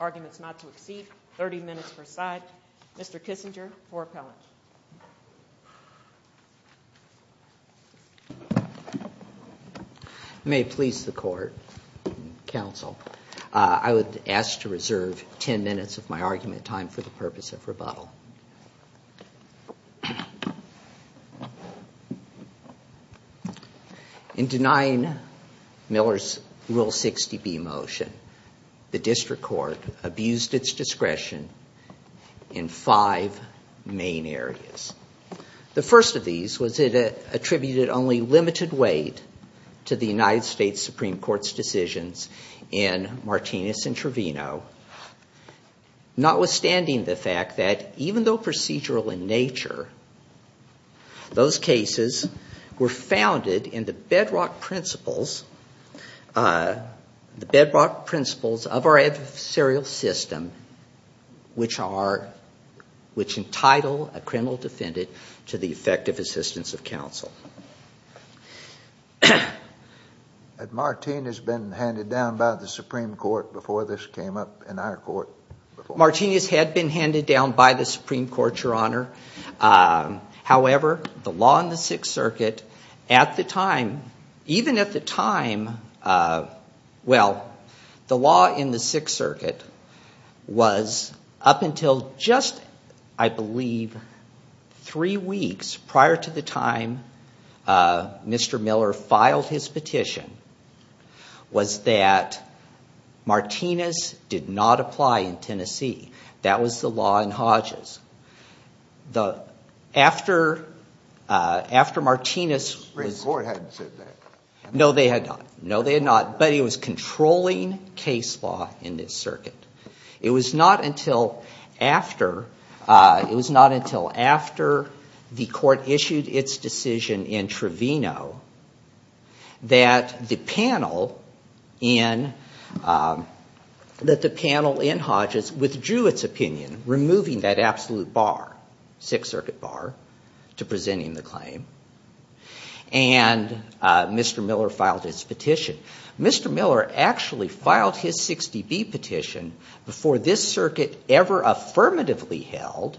Arguments not to exceed 30 minutes per side Mr. Kissinger for appellant. May it please the court, counsel, I would ask to reserve 10 minutes of my argument time for the purpose of rebuttal. In denying Miller's Rule 60B motion, the district court abused its discretion in five main areas. The first of these was it attributed only limited weight to the United States Supreme Court's decisions in Martinez and Trevino, notwithstanding the fact that even though procedural in nature, those cases were founded in the bedrock principles of our adversarial system, which are, which entitle a criminal defendant to the effective assistance of counsel. Had Martinez been handed down by the Supreme Court before this came up in our court? Martinez had been handed down by the Supreme Court, Your Honor. However, the law in the Sixth Circuit at the time, even at the time, well, the law in the Sixth Circuit was up until just, I believe, three weeks prior to the time Mr. Miller filed his petition, was that Martinez did not apply in Tennessee. That was the law in Hodges. The, after, after Martinez... The Supreme Court hadn't said that. No, they had not. No, in this circuit. It was not until after, it was not until after the court issued its decision in Trevino that the panel in, that the panel in Hodges withdrew its opinion, removing that absolute bar, Sixth Circuit bar, to presenting the claim, and Mr. Miller filed his petition. Mr. Miller actually filed his 60B petition before this circuit ever affirmatively held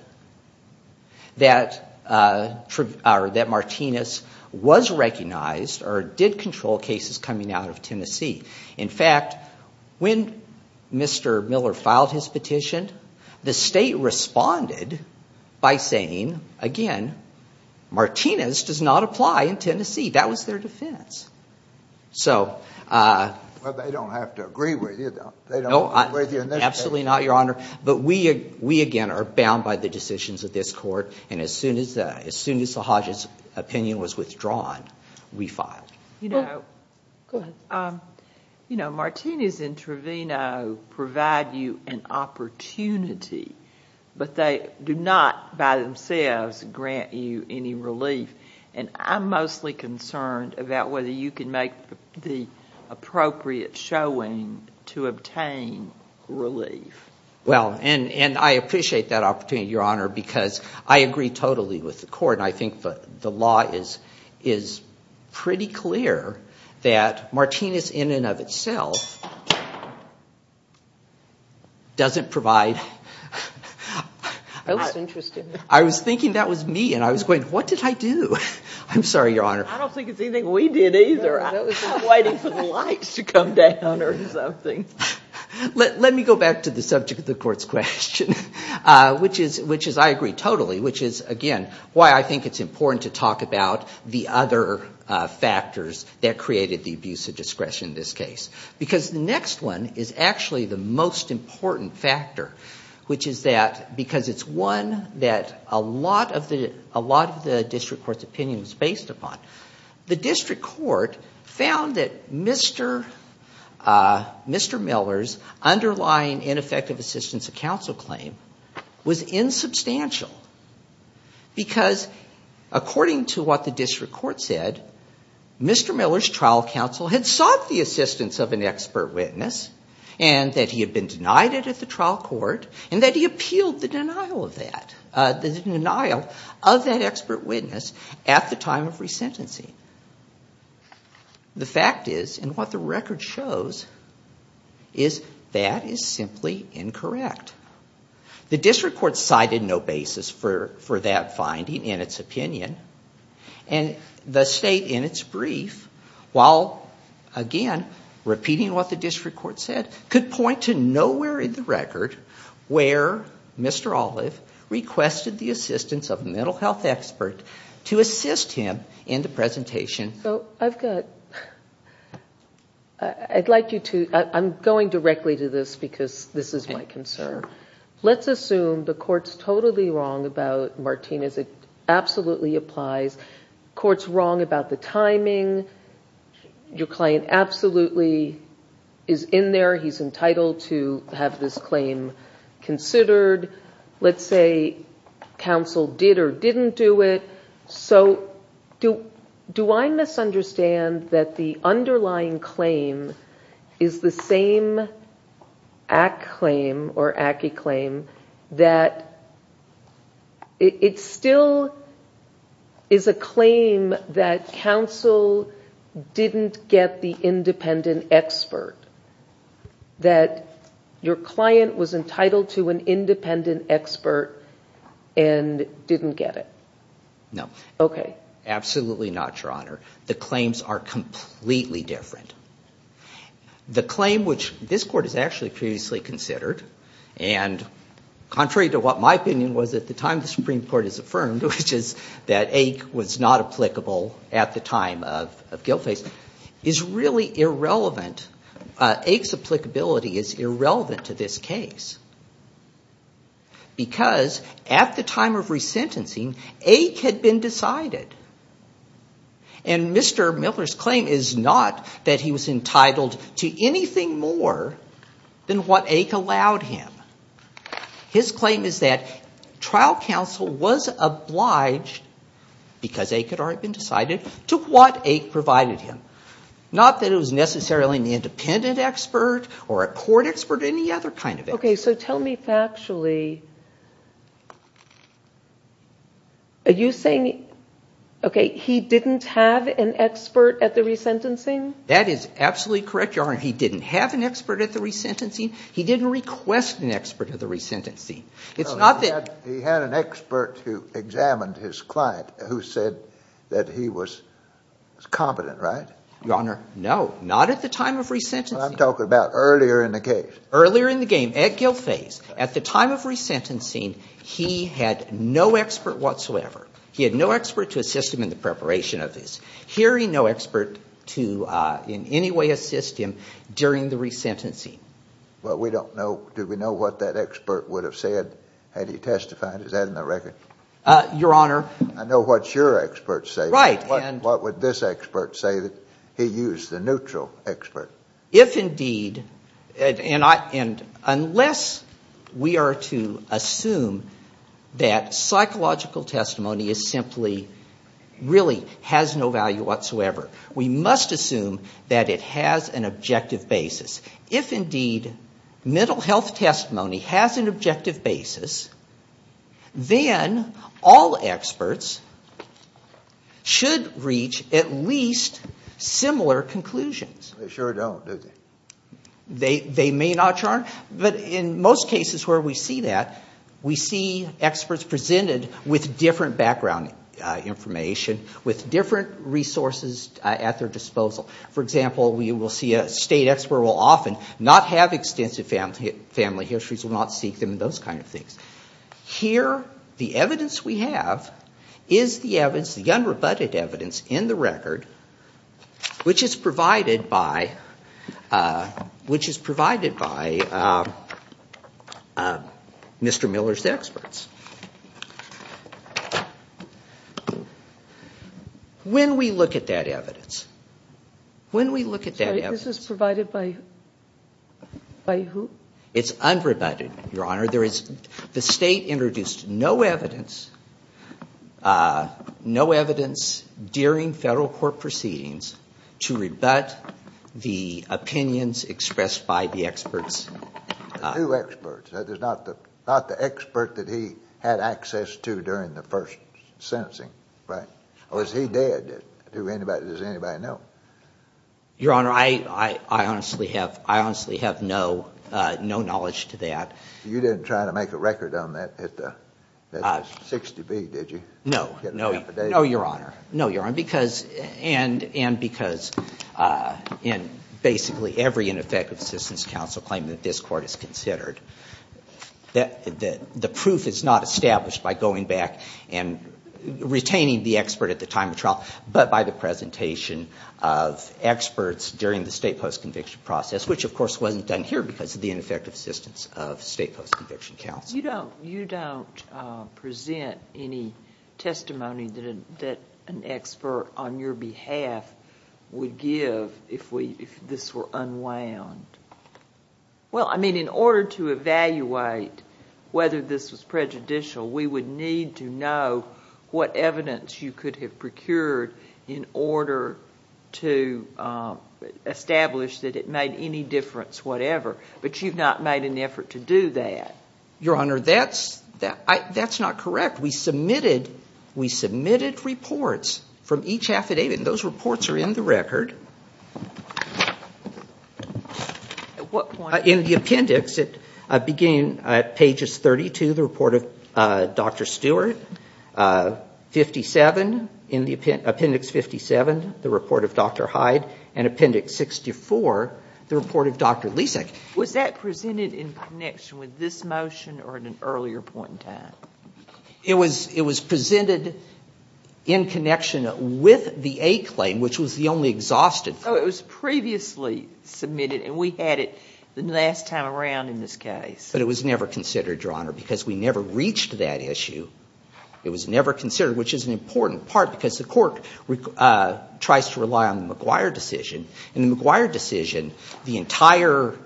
that, or that Martinez was recognized or did control cases coming out of Tennessee. In fact, when Mr. Miller filed his petition, the state responded by saying, again, Martinez does not apply in Tennessee. Well, they don't have to agree with you. They don't agree with you in this case. No, absolutely not, Your Honor. But we, we, again, are bound by the decisions of this court, and as soon as, as soon as the Hodges' opinion was withdrawn, we filed. You know, go ahead. You know, Martinez and Trevino provide you an opportunity, but they do not, by themselves, grant you any relief, and I'm mostly concerned about whether you can make the appropriate showing to obtain relief. Well, and, and I appreciate that opportunity, Your Honor, because I agree totally with the court, and I think that the law is, is pretty clear that Martinez, in and of itself, doesn't provide, I was thinking that was me, and I was going, what did I do? I'm sorry, Your Honor. I don't think it's anything we did, either. I was waiting for the lights to come down or something. Let, let me go back to the subject of the court's question, which is, which is, I agree totally, which is, again, why I think it's important to talk about the other factors that created the abuse of discretion in this case, because the next one is actually the most important factor, which is that, because it's one that a lot of the, a lot of the district court's opinion was based upon. The district court found that Mr., Mr. Miller's underlying ineffective assistance of counsel claim was insubstantial, because according to what the district court said, Mr. Miller's trial counsel had sought the assistance of an expert witness, and that he had been denied it at the trial court, and that he appealed the denial of that, the denial of that expert witness at the time of resentment. The fact is, and what the record shows, is that is simply incorrect. The district court cited no basis for, for that finding in its opinion, and the state, in its brief, while, again, repeating what the district court said, could point to nowhere in the record where Mr. Olive requested the assistance of a mental health expert to assist him in the process. So I've got, I'd like you to, I'm going directly to this, because this is my concern. Let's assume the court's totally wrong about Martinez. It absolutely applies. The court's wrong about the timing. Your client absolutely is in there. He's entitled to have this claim considered. Let's say counsel did or didn't do it. So do, do I misunderstand that the underlying claim is the same ACC claim, or ACCI claim, that it still is a claim that counsel didn't get the independent expert? No. Okay. Absolutely not, Your Honor. The claims are completely different. The claim which this court has actually previously considered, and contrary to what my opinion was at the time the Supreme Court has affirmed, which is that Ake was not applicable at the time of, of Gilface, is really irrelevant. Ake's applicability is irrelevant to this case. Because at the time of resentencing, Ake had been decided. And Mr. Miller's claim is not that he was entitled to anything more than what Ake allowed him. His claim is that trial counsel was obliged, because Ake had already been decided, to what Ake provided him. Not that it was necessarily an independent expert, or a court expert, or any other kind of expert. Okay, so tell me factually, are you saying, okay, he didn't have an expert at the resentencing? That is absolutely correct, Your Honor. He didn't have an expert at the resentencing. He didn't request an expert at the resentencing. It's not that... He had an expert who examined his client, who said that he was competent, right? Your Honor, no. Not at the time of resentencing. I'm talking about earlier in the case. Well, we don't know. Do we know what that expert would have said had he testified? Is that in the record? Your Honor... I know what your experts say. Right. What would this expert say that he used, the neutral expert? If indeed, and unless we are to assume that psychological testimony is simply, really has no value whatsoever, we must assume that it has an objective basis. If indeed mental health testimony has an objective basis, then all experts should reach at least similar conclusions. They don't, do they? They may not, Your Honor. But in most cases where we see that, we see experts presented with different background information, with different resources at their disposal. For example, we will see a state expert will often not have extensive family histories, will not seek them, those kind of things. Here, the evidence we have is the evidence, the unrebutted evidence in the record, which is provided by, which is provided by Mr. Miller's experts. When we look at that evidence, when we look at that evidence... This is provided by who? It's unrebutted, Your Honor. There is, the state introduced no evidence, no evidence during federal court proceedings to rebut the opinions expressed by the experts. Two experts, not the expert that he had access to during the first sentencing, right? Or is he dead? Does anybody know? Your Honor, I honestly have no knowledge to that. You didn't try to make a record on that at the 60B, did you? No, no, Your Honor. No, Your Honor. And because basically every ineffective assistance counsel claimed that this court is considered, the proof is not established by going back and retaining the expert at the time of trial, but by the presentation of experts during the state post-conviction process, which of course wasn't done here because of the ineffective assistance of state post-conviction counsel. You don't present any testimony that an expert on your behalf would give if this were unwound. Well, I mean, in order to evaluate whether this was prejudicial, we would need to know what evidence you could have procured in order to establish that it made any difference, whatever. But you've not made an effort to do that. Your Honor, that's not correct. We submitted reports from each affidavit, and those reports are in the record. At what point? In the appendix, beginning at pages 32, the report of Dr. Stewart, in appendix 57, the report of Dr. Hyde, and appendix 64, the report of Dr. Lisak. Was that presented in connection with this motion or at an earlier point in time? It was presented in connection with the A claim, which was the only exhausted. Oh, it was previously submitted, and we had it the last time around in this case. But it was never considered, Your Honor, because we never reached that issue. It was never considered, which is an important part because the court tries to rely on the McGuire decision. In the McGuire decision, the entire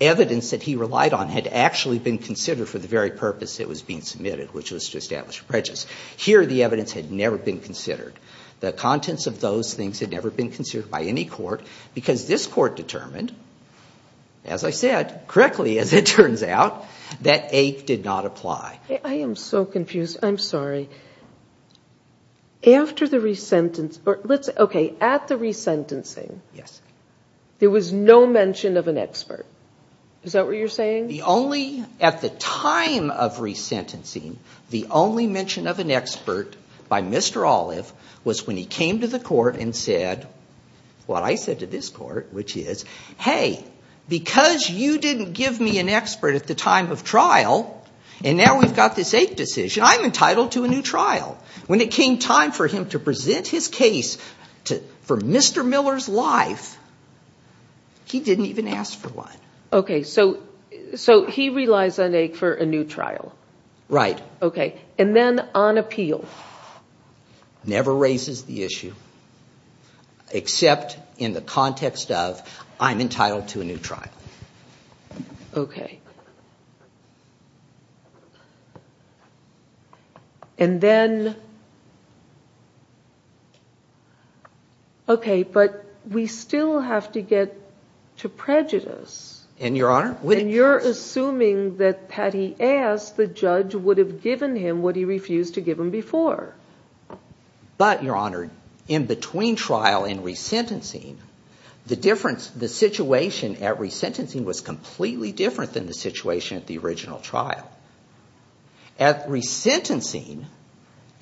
evidence that he relied on had actually been considered for the very purpose it was being submitted, which was to establish prejudice. Here, the evidence had never been considered. The contents of those things had never been considered by any court because this court determined, as I said, correctly, as it turns out, that A did not apply. I am so confused. I'm sorry. After the resentence, or let's say, okay, at the resentencing, there was no mention of an expert. Is that what you're saying? At the time of resentencing, the only mention of an expert by Mr. Olive was when he came to the court and said what I said to this court, which is, hey, because you didn't give me an expert at the time of trial, and now we've got this A decision, I'm entitled to a new trial. When it came time for him to present his case for Mr. Miller's life, he didn't even ask for one. Okay, so he relies on A for a new trial. Right. Okay, and then on appeal. Never raises the issue, except in the context of I'm entitled to a new trial. Okay. And then, okay, but we still have to get to prejudice. And, Your Honor, And you're assuming that had he asked, the judge would have given him what he refused to give him before. But, Your Honor, in between trial and resentencing, the situation at resentencing was completely different than the situation at the original trial. At resentencing,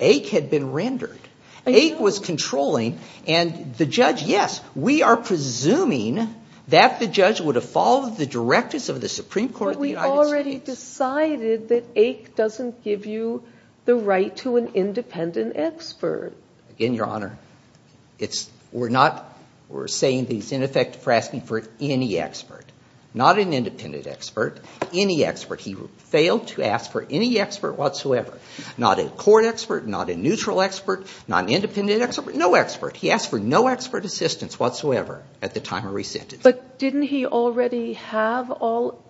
A had been rendered. A was controlling, and the judge, yes, we are presuming that the judge would have followed the directives of the Supreme Court of the United States. But he decided that A doesn't give you the right to an independent expert. Again, Your Honor, we're saying that he's in effect asking for any expert. Not an independent expert, any expert. He failed to ask for any expert whatsoever. Not a court expert, not a neutral expert, not an independent expert, no expert. He asked for no expert assistance whatsoever at the time of resentence. But didn't he already have all,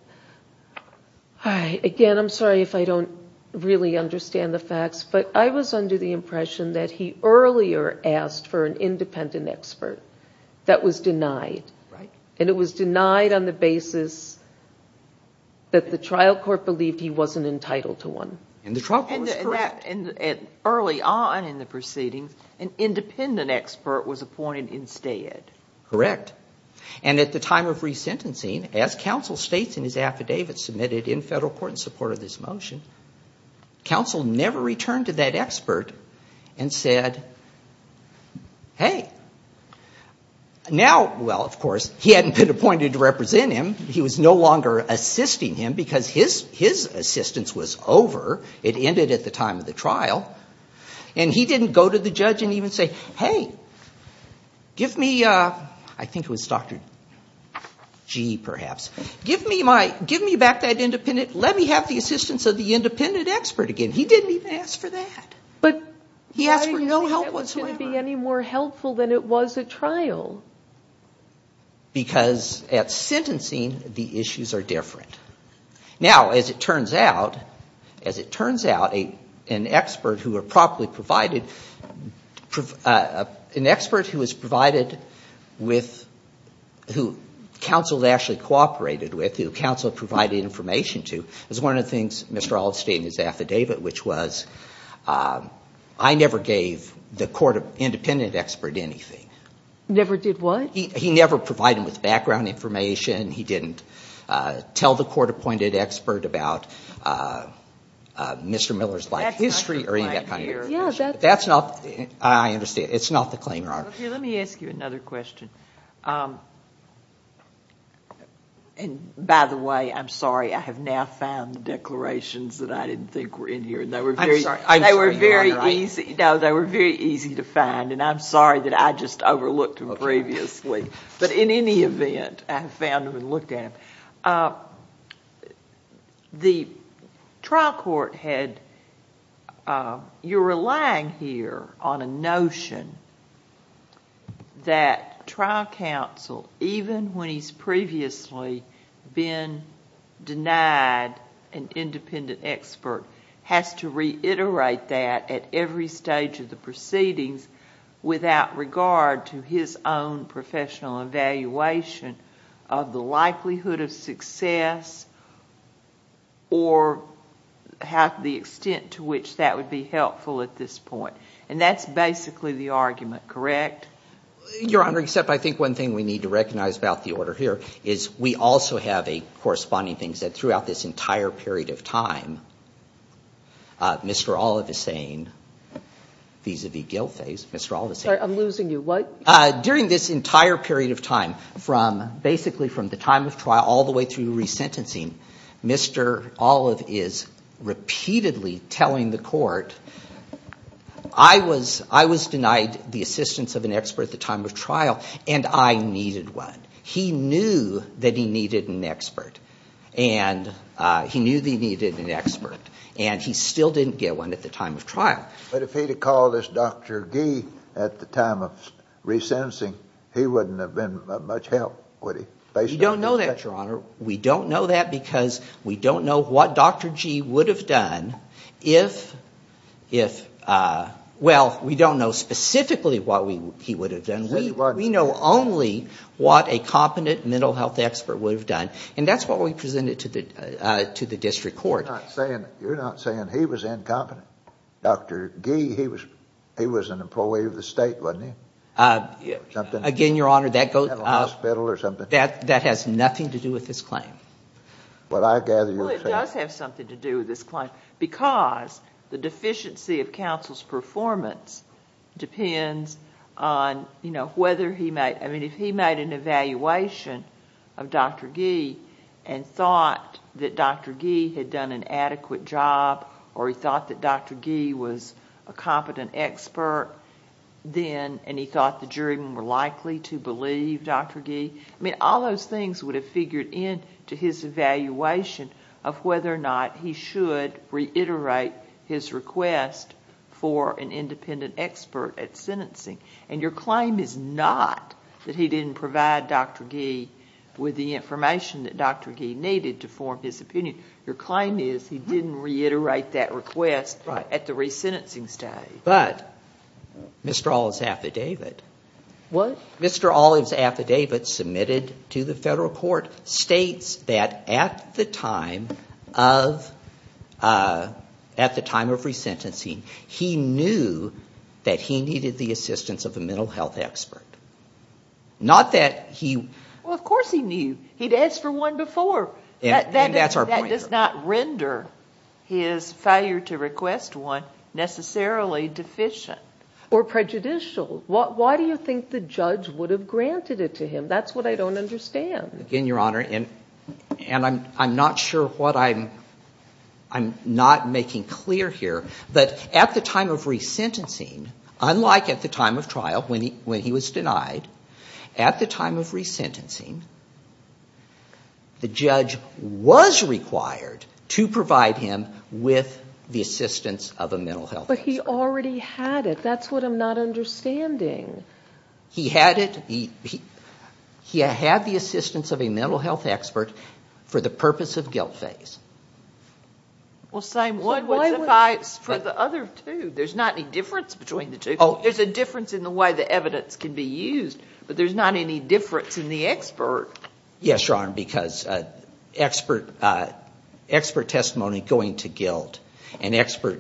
again, I'm sorry if I don't really understand the facts, but I was under the impression that he earlier asked for an independent expert that was denied. And it was denied on the basis that the trial court believed he wasn't entitled to one. And the trial court was correct. And early on in the proceedings, an independent expert was appointed instead. Correct. And at the time of resentencing, as counsel states in his affidavit submitted in federal court in support of this motion, counsel never returned to that expert and said, hey. Now, well, of course, he hadn't been appointed to represent him. He was no longer assisting him because his assistance was over. It ended at the time of the trial. And he didn't go to the judge and even say, hey, give me, I think it was Dr. Gee, perhaps, give me back that independent, let me have the assistance of the independent expert again. He didn't even ask for that. He asked for no help whatsoever. But why do you think that was going to be any more helpful than it was at trial? Because at sentencing, the issues are different. Now, as it turns out, as it turns out, an expert who were properly provided, an expert who was provided with, who counsel actually cooperated with, who counsel provided information to, is one of the things, Mr. Oldstein, in his affidavit, which was I never gave the independent expert anything. Never did what? He never provided him with background information. He didn't tell the court-appointed expert about Mr. Miller's life history or any of that kind of information. That's not the claim here. I understand. It's not the claim, Your Honor. Okay. Let me ask you another question. And, by the way, I'm sorry, I have now found the declarations that I didn't think were in here. I'm sorry. They were very easy. No, they were very easy to find. And I'm sorry that I just overlooked them previously. But in any event, I found them and looked at them. The trial court had, you're relying here on a notion that trial counsel, even when he's previously been denied an independent expert, has to reiterate that at every stage of the proceedings without regard to his own professional evaluation of the likelihood of success or the extent to which that would be helpful at this point. And that's basically the argument, correct? Your Honor, except I think one thing we need to recognize about the order here is we also have a corresponding thing that throughout this entire period of time, Mr. Olive is saying vis-à-vis Gilfay's, Mr. Olive is saying. Sorry, I'm losing you. During this entire period of time, from basically from the time of trial all the way through resentencing, Mr. Olive is repeatedly telling the court, I was denied the assistance of an expert at the time of trial and I needed one. He knew that he needed an expert and he knew that he needed an expert and he still didn't get one at the time of trial. But if he'd have called us Dr. Gee at the time of resentencing, he wouldn't have been of much help, would he? You don't know that, Your Honor. We don't know that because we don't know what Dr. Gee would have done if, well, we don't know specifically what he would have done. We know only what a competent mental health expert would have done and that's what we presented to the district court. You're not saying he was incompetent. Dr. Gee, he was an employee of the state, wasn't he? Again, Your Honor, that has nothing to do with this claim. Well, it does have something to do with this claim because the deficiency of counsel's performance depends on whether he made, I mean, if he made an evaluation of Dr. Gee and thought that Dr. Gee had done an adequate job or he thought that Dr. Gee was a competent expert then and he thought the jury were more likely to believe Dr. Gee, I mean, all those things would have figured into his evaluation of whether or not he should reiterate his request for an independent expert at sentencing. And your claim is not that he didn't provide Dr. Gee with the information that Dr. Gee needed to form his opinion. Your claim is he didn't reiterate that request at the resentencing stage. But Mr. Olive's affidavit. What? Mr. Olive's affidavit submitted to the federal court states that at the time of resentencing, he knew that he needed the assistance of a mental health expert. Not that he... Well, of course he knew. He'd asked for one before. And that's our point. That does not render his failure to request one necessarily deficient. Or prejudicial. Why do you think the judge would have granted it to him? That's what I don't understand. Again, Your Honor, and I'm not sure what I'm not making clear here, but at the time of resentencing, unlike at the time of trial when he was denied, at the time of resentencing, the judge was required to provide him with the assistance of a mental health expert. But he already had it. That's what I'm not understanding. He had it. He had the assistance of a mental health expert for the purpose of guilt phase. Well, same one would apply for the other two. There's not any difference between the two. There's a difference in the way the evidence can be used, but there's not any difference in the expert. Yes, Your Honor, because expert testimony going to guilt and expert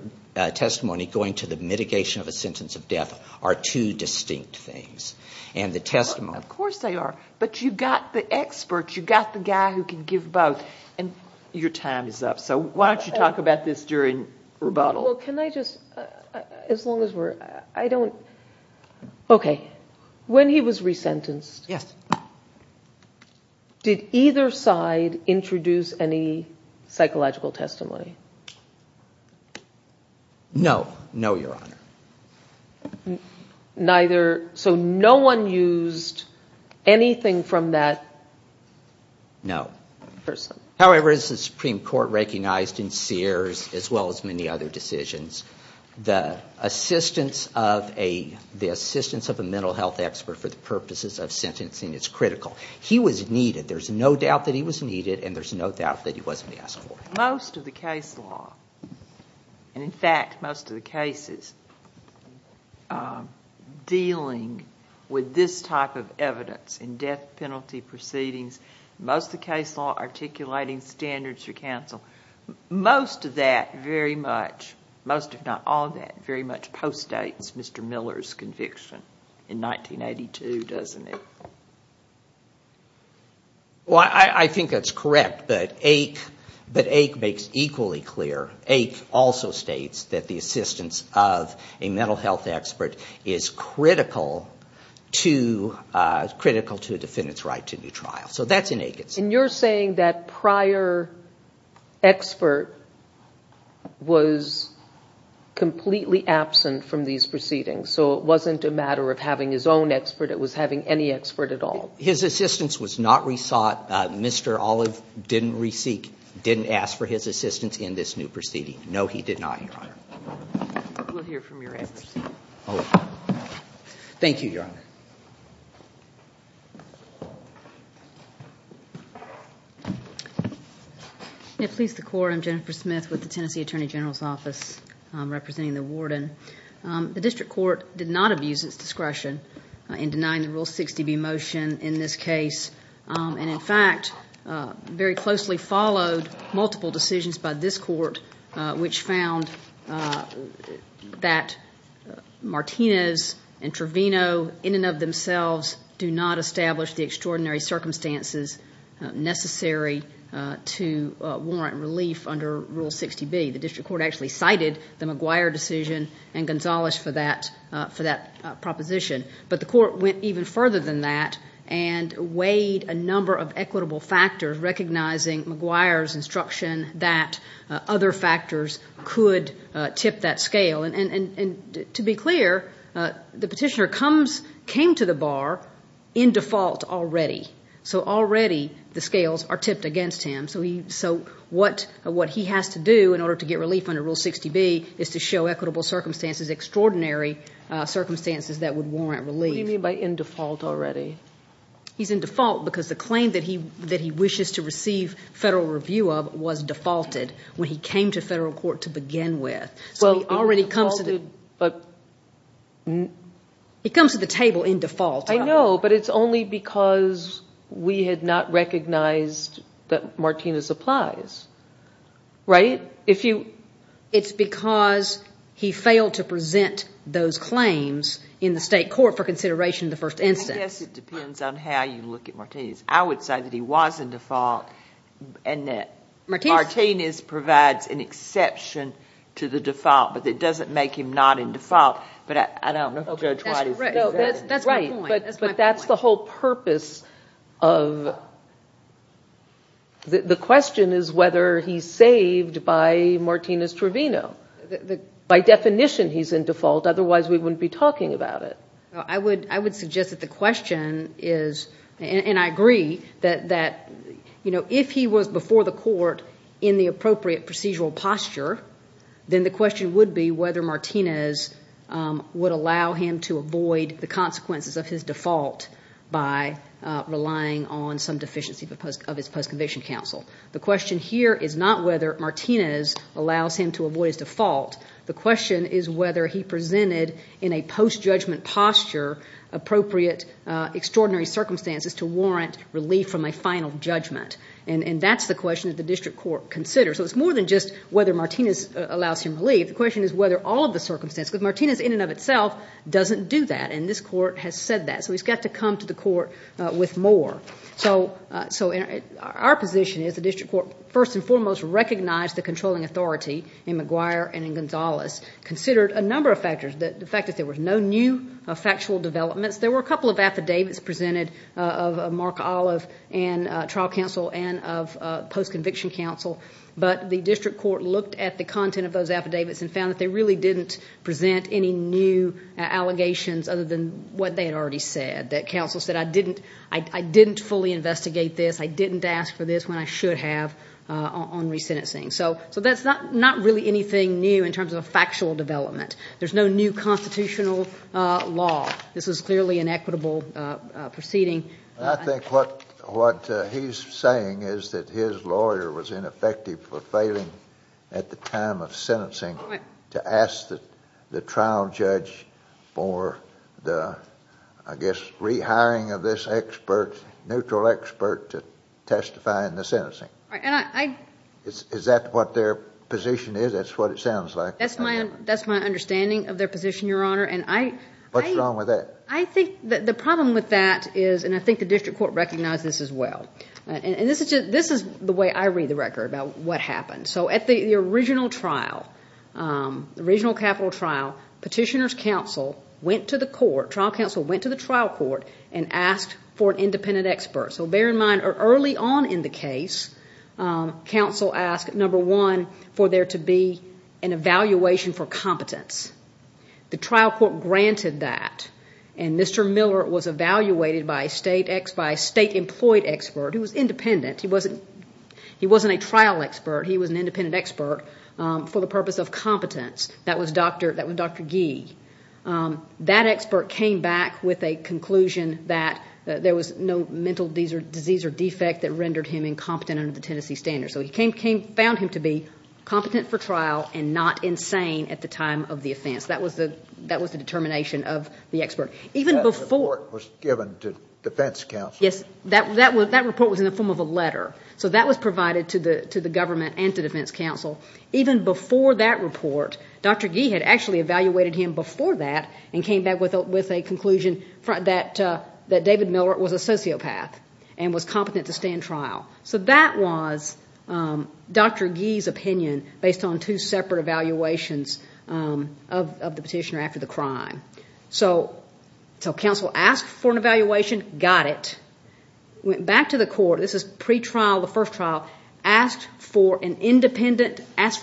testimony going to the mitigation of a sentence of death are two distinct things. Of course they are. But you've got the expert. You've got the guy who can give both. Your time is up, so why don't you talk about this during rebuttal. Well, can I just, as long as we're, I don't, okay. When he was resentenced, did either side introduce any psychological testimony? No, no, Your Honor. Neither, so no one used anything from that person? No. However, as the Supreme Court recognized in Sears, as well as many other decisions, the assistance of a mental health expert for the purposes of sentencing is critical. He was needed. There's no doubt that he was needed, and there's no doubt that he wasn't asked for. Most of the case law, and in fact most of the cases, dealing with this type of evidence in death penalty proceedings, most of the case law articulating standards for counsel, most of that very much, most if not all of that, very much postdates Mr. Miller's conviction in 1982, doesn't it? Well, I think that's correct, but Ake makes equally clear, Ake also states that the assistance of a mental health expert is critical to, critical to a defendant's right to a new trial. So that's in Ake itself. And you're saying that prior expert was completely absent from these proceedings, so it wasn't a matter of having his own expert, it was having any expert at all? His assistance was not re-sought. Mr. Olive didn't re-seek, didn't ask for his assistance in this new proceeding. No, he did not, Your Honor. We'll hear from your experts. Thank you, Your Honor. May it please the Court. I'm Jennifer Smith with the Tennessee Attorney General's Office, representing the warden. The district court did not abuse its discretion in denying the Rule 60b motion in this case, and in fact very closely followed multiple decisions by this court, which found that Martinez and Trevino in and of themselves do not establish the extraordinary circumstances necessary to warrant relief under Rule 60b. The district court actually cited the McGuire decision and Gonzales for that proposition. But the court went even further than that and weighed a number of equitable factors, recognizing McGuire's instruction that other factors could tip that scale. And to be clear, the petitioner came to the bar in default already. So already the scales are tipped against him. So what he has to do in order to get relief under Rule 60b is to show equitable circumstances, extraordinary circumstances that would warrant relief. What do you mean by in default already? He's in default because the claim that he wishes to receive federal review of was defaulted when he came to federal court to begin with. So he already comes to the table in default. I know, but it's only because we had not recognized that Martinez applies, right? It's because he failed to present those claims in the state court for consideration in the first instance. I guess it depends on how you look at Martinez. I would say that he was in default and that Martinez provides an exception to the default, but it doesn't make him not in default. But I don't know if Judge White is correct. That's my point. But that's the whole purpose of the question is whether he's saved by Martinez Trevino. By definition he's in default, otherwise we wouldn't be talking about it. I would suggest that the question is, and I agree, that if he was before the court in the appropriate procedural posture, then the question would be whether Martinez would allow him to avoid the consequences of his default by relying on some deficiency of his post-conviction counsel. The question here is not whether Martinez allows him to avoid his default. The question is whether he presented in a post-judgment posture appropriate extraordinary circumstances to warrant relief from a final judgment. And that's the question that the district court considers. So it's more than just whether Martinez allows him relief. The question is whether all of the circumstances, because Martinez in and of itself doesn't do that, and this court has said that. So he's got to come to the court with more. So our position is the district court, first and foremost, recognized the controlling authority in McGuire and in Gonzales, considered a number of factors, the fact that there were no new factual developments. There were a couple of affidavits presented of Mark Olive and trial counsel and of post-conviction counsel, but the district court looked at the content of those affidavits and found that they really didn't present any new allegations other than what they had already said, that counsel said, I didn't fully investigate this, I didn't ask for this when I should have on resentencing. So that's not really anything new in terms of a factual development. There's no new constitutional law. This is clearly an equitable proceeding. I think what he's saying is that his lawyer was ineffective for failing at the time of sentencing to ask the trial judge for the, I guess, rehiring of this expert, neutral expert, to testify in the sentencing. Is that what their position is? That's what it sounds like. That's my understanding of their position, Your Honor. What's wrong with that? I think the problem with that is, and I think the district court recognized this as well, and this is the way I read the record about what happened. So at the original capital trial, petitioner's counsel went to the court, trial counsel went to the trial court, and asked for an independent expert. So bear in mind early on in the case, counsel asked, number one, for there to be an evaluation for competence. The trial court granted that, and Mr. Miller was evaluated by a state-employed expert who was independent. He wasn't a trial expert. He was an independent expert for the purpose of competence. That was Dr. Gee. That expert came back with a conclusion that there was no mental disease or defect that rendered him incompetent under the Tennessee standards. So he found him to be competent for trial and not insane at the time of the offense. That was the determination of the expert. Even before... That report was given to defense counsel. Yes. That report was in the form of a letter. So that was provided to the government and to defense counsel. Even before that report, Dr. Gee had actually evaluated him before that and came back with a conclusion that David Miller was a sociopath and was competent to stand trial. So that was Dr. Gee's opinion based on two separate evaluations of the petitioner after the crime. So counsel asked for an evaluation, got it, went back to the court. This is pretrial, the first trial. Asked for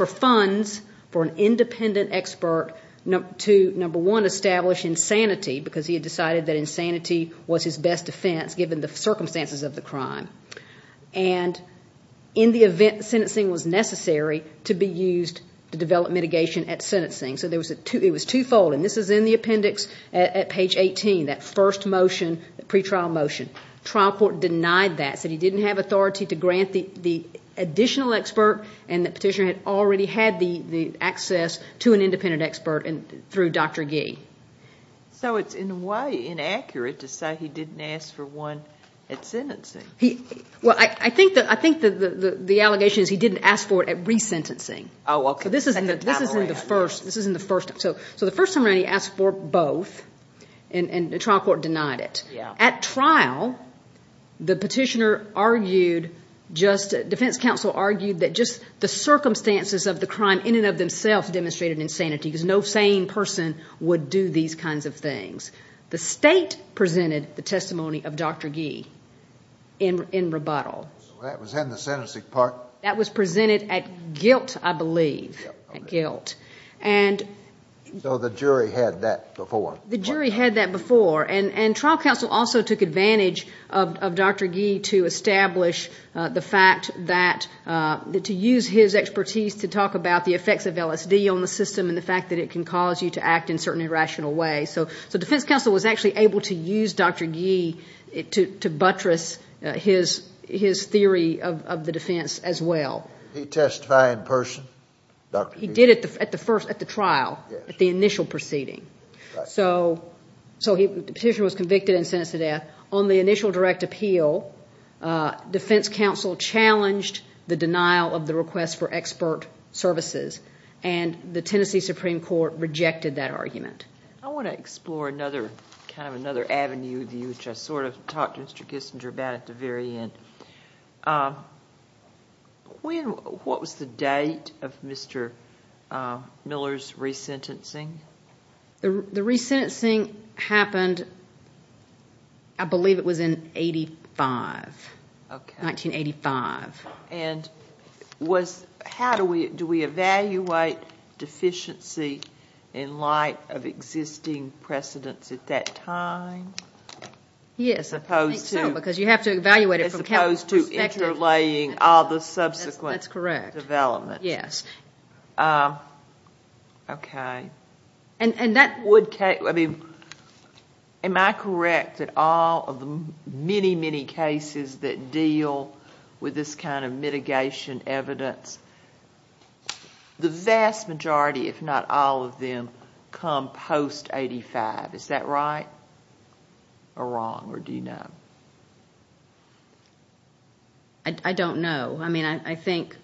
funds for an independent expert to, number one, establish insanity because he had decided that insanity was his best defense given the circumstances of the crime. And in the event that sentencing was necessary, to be used to develop mitigation at sentencing. So it was twofold. And this is in the appendix at page 18, that first motion, the pretrial motion. Trial court denied that, said he didn't have authority to grant the additional expert and the petitioner had already had the access to an independent expert through Dr. Gee. So it's in a way inaccurate to say he didn't ask for one at sentencing. Well, I think the allegation is he didn't ask for it at resentencing. Oh, okay. So this is in the first time. So the first time around he asked for both and the trial court denied it. At trial, the petitioner argued, defense counsel argued, that just the circumstances of the crime in and of themselves demonstrated insanity because no sane person would do these kinds of things. The state presented the testimony of Dr. Gee in rebuttal. So that was in the sentencing part? That was presented at guilt, I believe, at guilt. So the jury had that before? The jury had that before. And trial counsel also took advantage of Dr. Gee to establish the fact that to use his expertise to talk about the effects of LSD on the system and the fact that it can cause you to act in certain irrational ways. So defense counsel was actually able to use Dr. Gee to buttress his theory of the defense as well. Did he testify in person, Dr. Gee? He did at the trial, at the initial proceeding. So the petitioner was convicted and sentenced to death. On the initial direct appeal, defense counsel challenged the denial of the request for expert services, and the Tennessee Supreme Court rejected that argument. I want to explore another kind of avenue of view, which I sort of talked to Mr. Kissinger about at the very end. What was the date of Mr. Miller's resentencing? The resentencing happened, I believe, it was in 1985. Okay. 1985. And how do we evaluate deficiency in light of existing precedents at that time? Yes, I think so, because you have to evaluate it from Kevin's perspective. As opposed to interlaying all the subsequent development. That's correct. Yes. Okay. Am I correct that all of the many, many cases that deal with this kind of mitigation evidence, the vast majority, if not all of them, come post-'85. Is that right or wrong, or do you know? I don't know. I mean, obviously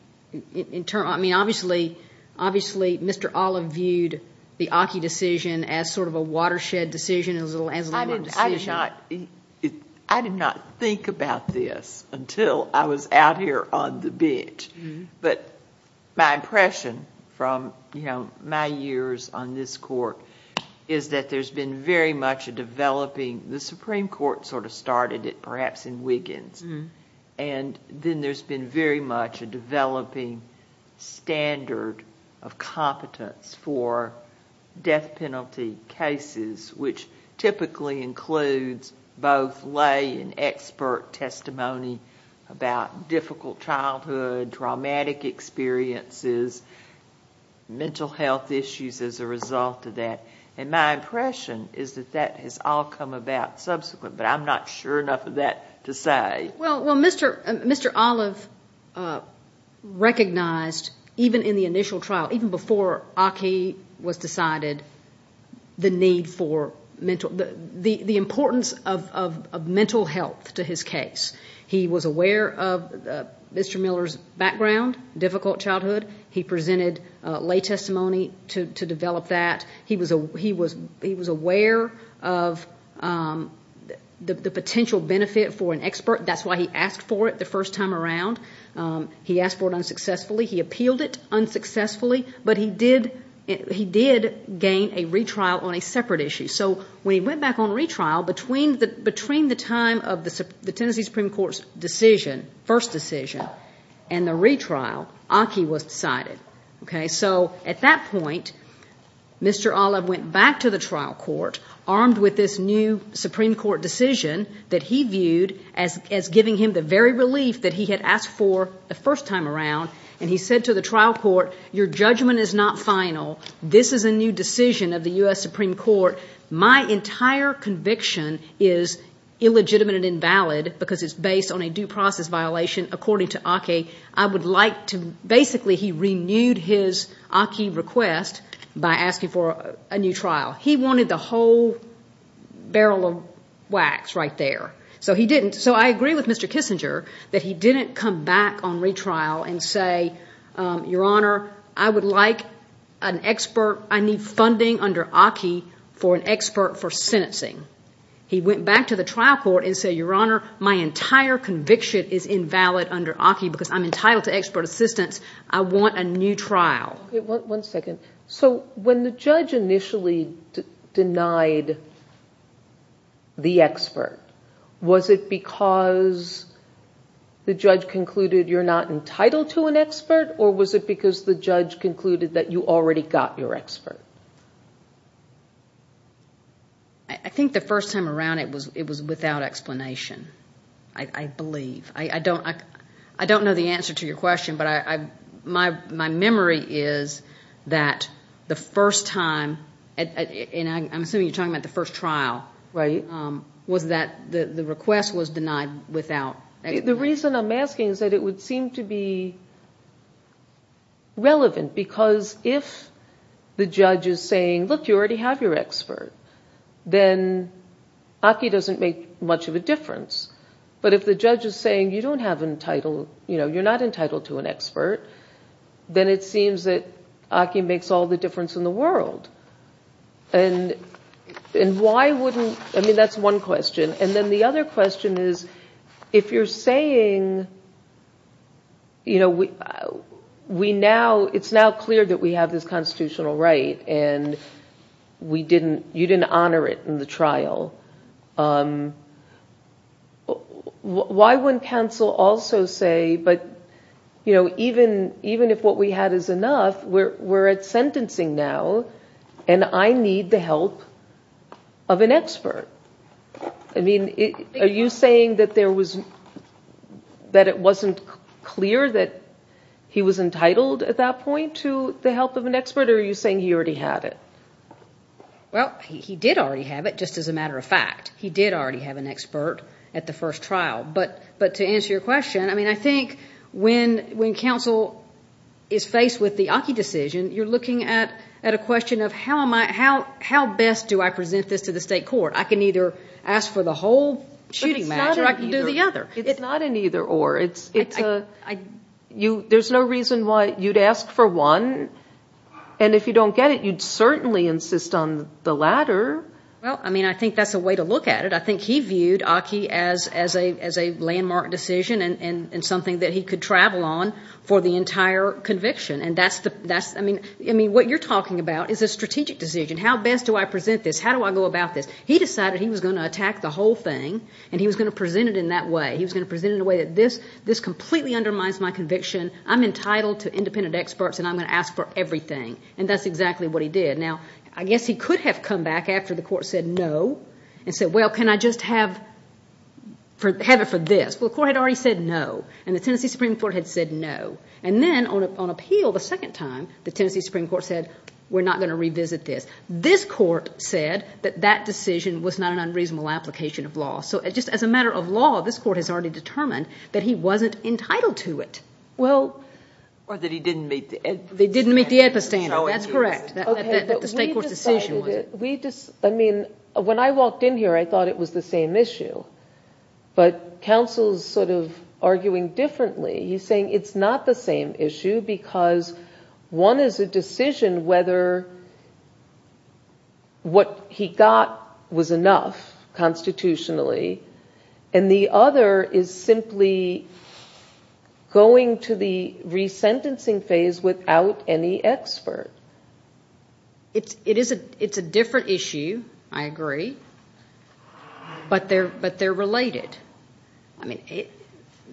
Mr. Olive viewed the Aki decision as sort of a watershed decision, as a landmark decision. I did not think about this until I was out here on the bench. But my impression from my years on this court is that there's been very much a developing. The Supreme Court sort of started it, perhaps, in Wiggins. Then there's been very much a developing standard of competence for death penalty cases, which typically includes both lay and expert testimony about difficult childhood, traumatic experiences, mental health issues as a result of that. My impression is that that has all come about subsequently, but I'm not sure enough of that to say. Well, Mr. Olive recognized, even in the initial trial, even before Aki was decided, the importance of mental health to his case. He was aware of Mr. Miller's background, difficult childhood. He presented lay testimony to develop that. He was aware of the potential benefit for an expert. That's why he asked for it the first time around. He asked for it unsuccessfully. He appealed it unsuccessfully, but he did gain a retrial on a separate issue. So when he went back on retrial, between the time of the Tennessee Supreme Court's decision, first decision, and the retrial, Aki was decided. So at that point, Mr. Olive went back to the trial court, armed with this new Supreme Court decision that he viewed as giving him the very relief that he had asked for the first time around, and he said to the trial court, your judgment is not final. This is a new decision of the U.S. Supreme Court. My entire conviction is illegitimate and invalid because it's based on a due process violation, according to Aki. Basically, he renewed his Aki request by asking for a new trial. He wanted the whole barrel of wax right there. So he didn't. So I agree with Mr. Kissinger that he didn't come back on retrial and say, your Honor, I would like an expert. I need funding under Aki for an expert for sentencing. He went back to the trial court and said, your Honor, my entire conviction is invalid under Aki because I'm entitled to expert assistance. I want a new trial. One second. So when the judge initially denied the expert, was it because the judge concluded you're not entitled to an expert, or was it because the judge concluded that you already got your expert? I think the first time around it was without explanation, I believe. I don't know the answer to your question, but my memory is that the first time, and I'm assuming you're talking about the first trial, was that the request was denied without explanation. The reason I'm asking is that it would seem to be relevant because if the judge is saying, look, you already have your expert, then Aki doesn't make much of a difference. But if the judge is saying you're not entitled to an expert, then it seems that Aki makes all the difference in the world. And why wouldn't – I mean, that's one question. And then the other question is, if you're saying it's now clear that we have this constitutional right and you didn't honor it in the trial, why wouldn't counsel also say, but even if what we had is enough, we're at sentencing now, and I need the help of an expert? I mean, are you saying that it wasn't clear that he was entitled at that point to the help of an expert, or are you saying he already had it? Well, he did already have it, just as a matter of fact. He did already have an expert at the first trial. But to answer your question, I mean, I think when counsel is faced with the Aki decision, you're looking at a question of how best do I present this to the state court. I can either ask for the whole shooting match, or I can do the other. It's not an either-or. There's no reason why you'd ask for one, and if you don't get it, you'd certainly insist on the latter. Well, I mean, I think that's a way to look at it. I think he viewed Aki as a landmark decision and something that he could travel on for the entire conviction. And that's the – I mean, what you're talking about is a strategic decision. How best do I present this? How do I go about this? He decided he was going to attack the whole thing, and he was going to present it in that way. He was going to present it in a way that this completely undermines my conviction. I'm entitled to independent experts, and I'm going to ask for everything. And that's exactly what he did. Now, I guess he could have come back after the court said no and said, well, can I just have it for this? Well, the court had already said no, and the Tennessee Supreme Court had said no. And then on appeal the second time, the Tennessee Supreme Court said, we're not going to revisit this. So just as a matter of law, this court has already determined that he wasn't entitled to it. Well – Or that he didn't meet the APA standard. They didn't meet the APA standard. That's correct. That the state court's decision was. I mean, when I walked in here, I thought it was the same issue. But counsel's sort of arguing differently. He's saying it's not the same issue because one is a decision whether what he got was enough constitutionally. And the other is simply going to the resentencing phase without any expert. It's a different issue. I agree. But they're related. I mean,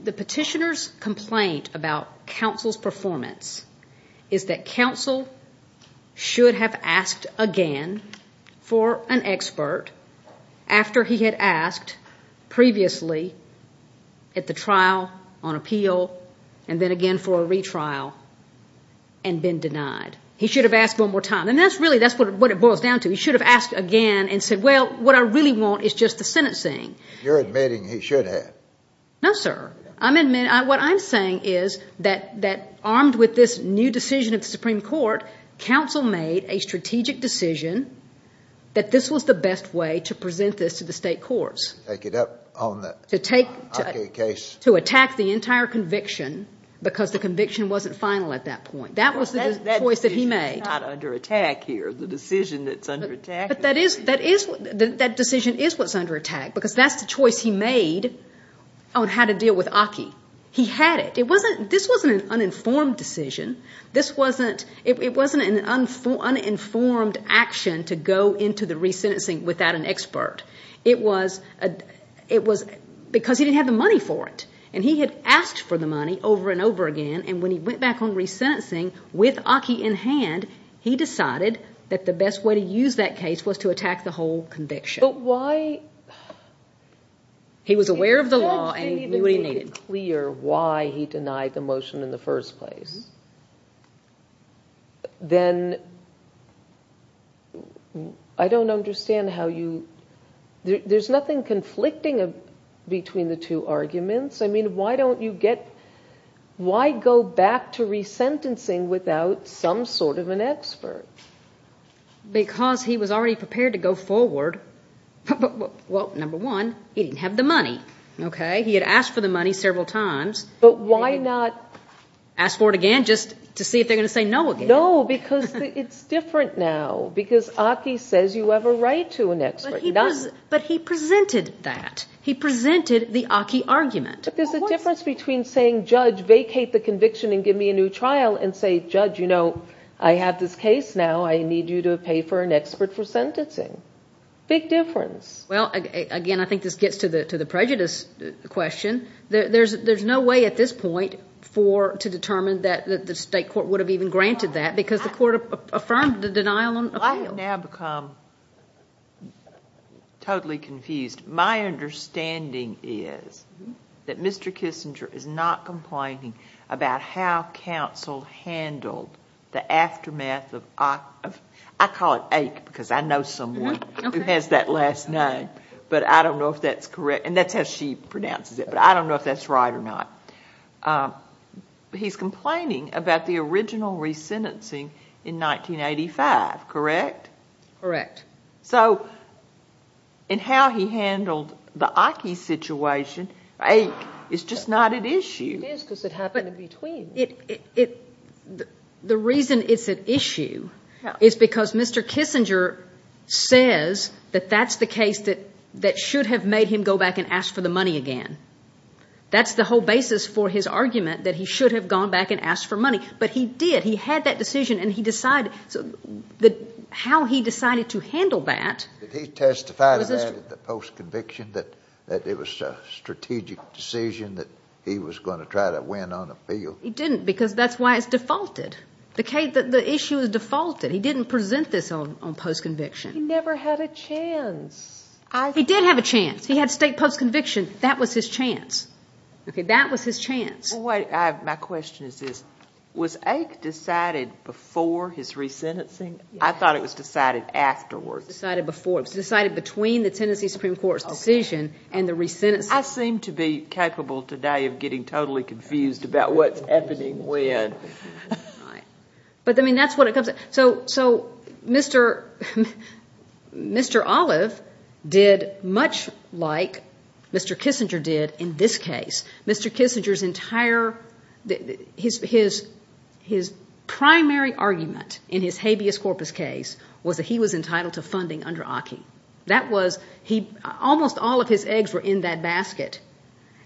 the petitioner's complaint about counsel's performance is that counsel should have asked again for an expert after he had asked previously at the trial on appeal and then again for a retrial and been denied. He should have asked one more time. And that's really what it boils down to. He should have asked again and said, well, what I really want is just the sentencing. You're admitting he should have. No, sir. I'm admitting. What I'm saying is that armed with this new decision of the Supreme Court, counsel made a strategic decision that this was the best way to present this to the state courts. To take it up on the Hockey case. To attack the entire conviction because the conviction wasn't final at that point. That was the choice that he made. That decision is not under attack here, the decision that's under attack. But that decision is what's under attack because that's the choice he made on how to deal with Hockey. He had it. This wasn't an uninformed decision. This wasn't an uninformed action to go into the resentencing without an expert. It was because he didn't have the money for it. And he had asked for the money over and over again, and when he went back on resentencing with Hockey in hand, he decided that the best way to use that case was to attack the whole conviction. But why? He was aware of the law and knew what he needed. If the judge didn't even make it clear why he denied the motion in the first place, then I don't understand how you, there's nothing conflicting between the two arguments. I mean, why don't you get, why go back to resentencing without some sort of an expert? Because he was already prepared to go forward. Well, number one, he didn't have the money, okay? He had asked for the money several times. But why not? Ask for it again just to see if they're going to say no again. No, because it's different now. Because Hockey says you have a right to an expert. But he presented that. He presented the Hockey argument. But there's a difference between saying, judge, vacate the conviction and give me a new trial, and say, judge, you know, I have this case now. I need you to pay for an expert for sentencing. Big difference. Well, again, I think this gets to the prejudice question. There's no way at this point to determine that the state court would have even granted that, because the court affirmed the denial on appeal. I have now become totally confused. My understanding is that Mr. Kissinger is not complaining about how counsel handled the aftermath of, I call it ache because I know someone who has that last name. But I don't know if that's correct. And that's how she pronounces it. But I don't know if that's right or not. He's complaining about the original resentencing in 1985, correct? Correct. So in how he handled the Hockey situation, ache is just not at issue. It is because it happened in between. The reason it's at issue is because Mr. Kissinger says that that's the case that should have made him go back and ask for the money again. That's the whole basis for his argument, that he should have gone back and asked for money. But he did. And he decided how he decided to handle that. Did he testify to that in the post-conviction, that it was a strategic decision, that he was going to try to win on appeal? He didn't, because that's why it's defaulted. The issue is defaulted. He didn't present this on post-conviction. He never had a chance. He did have a chance. He had state post-conviction. That was his chance. That was his chance. My question is this. Was ache decided before his resentencing? I thought it was decided afterwards. It was decided before. It was decided between the Tennessee Supreme Court's decision and the resentencing. I seem to be capable today of getting totally confused about what's happening when. Right. But, I mean, that's what it comes down to. So Mr. Olive did much like Mr. Kissinger did in this case. Mr. Kissinger's entire, his primary argument in his habeas corpus case was that he was entitled to funding under ache. That was, almost all of his eggs were in that basket.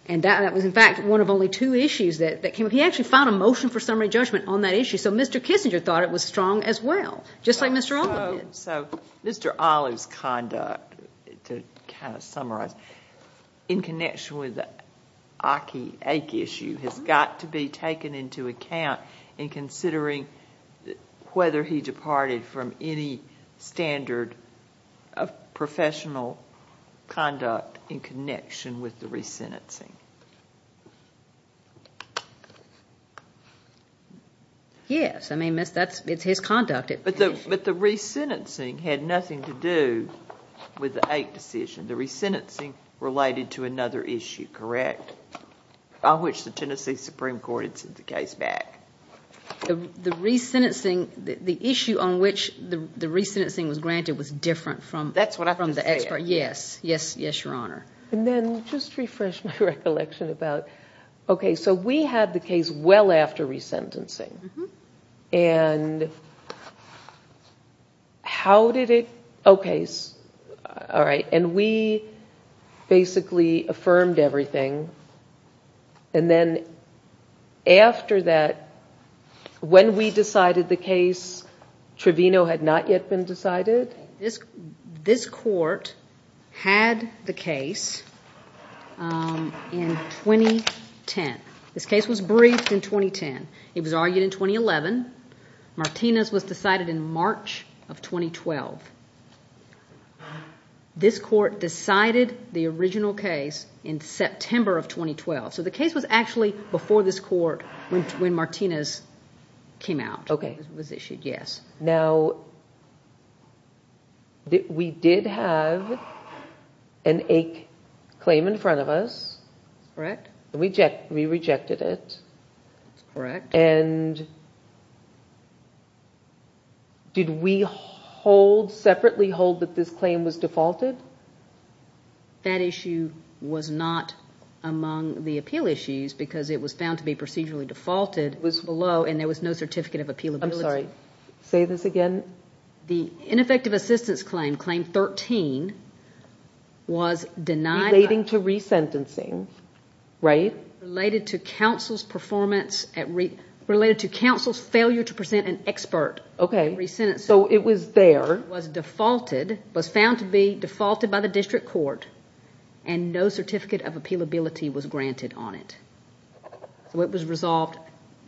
And that was, in fact, one of only two issues that came up. He actually found a motion for summary judgment on that issue. So Mr. Kissinger thought it was strong as well, just like Mr. Olive did. So Mr. Olive's conduct, to kind of summarize, in connection with the ache issue has got to be taken into account in considering whether he departed from any standard of professional conduct in connection with the resentencing. Yes. I mean, it's his conduct. But the resentencing had nothing to do with the ache decision. The resentencing related to another issue, correct? On which the Tennessee Supreme Court had sent the case back. The issue on which the resentencing was granted was different from the expert. That's what I understand. Yes. Yes, Your Honor. And then, just to refresh my recollection about, okay, so we had the case well after resentencing. Mm-hmm. And how did it, okay, all right. And we basically affirmed everything. And then after that, when we decided the case, Trevino had not yet been decided? This court had the case in 2010. This case was briefed in 2010. It was argued in 2011. Martinez was decided in March of 2012. This court decided the original case in September of 2012. So the case was actually before this court when Martinez came out. Okay. It was issued, yes. Now, we did have an ache claim in front of us. Correct. We rejected it. Correct. And did we hold, separately hold, that this claim was defaulted? That issue was not among the appeal issues because it was found to be procedurally defaulted below and there was no certificate of appealability. Sorry, say this again. The ineffective assistance claim, claim 13, was denied. Relating to resentencing, right? Related to counsel's performance at, related to counsel's failure to present an expert in resentencing. Okay. So it was there. It was defaulted, was found to be defaulted by the district court, and no certificate of appealability was granted on it. So it was resolved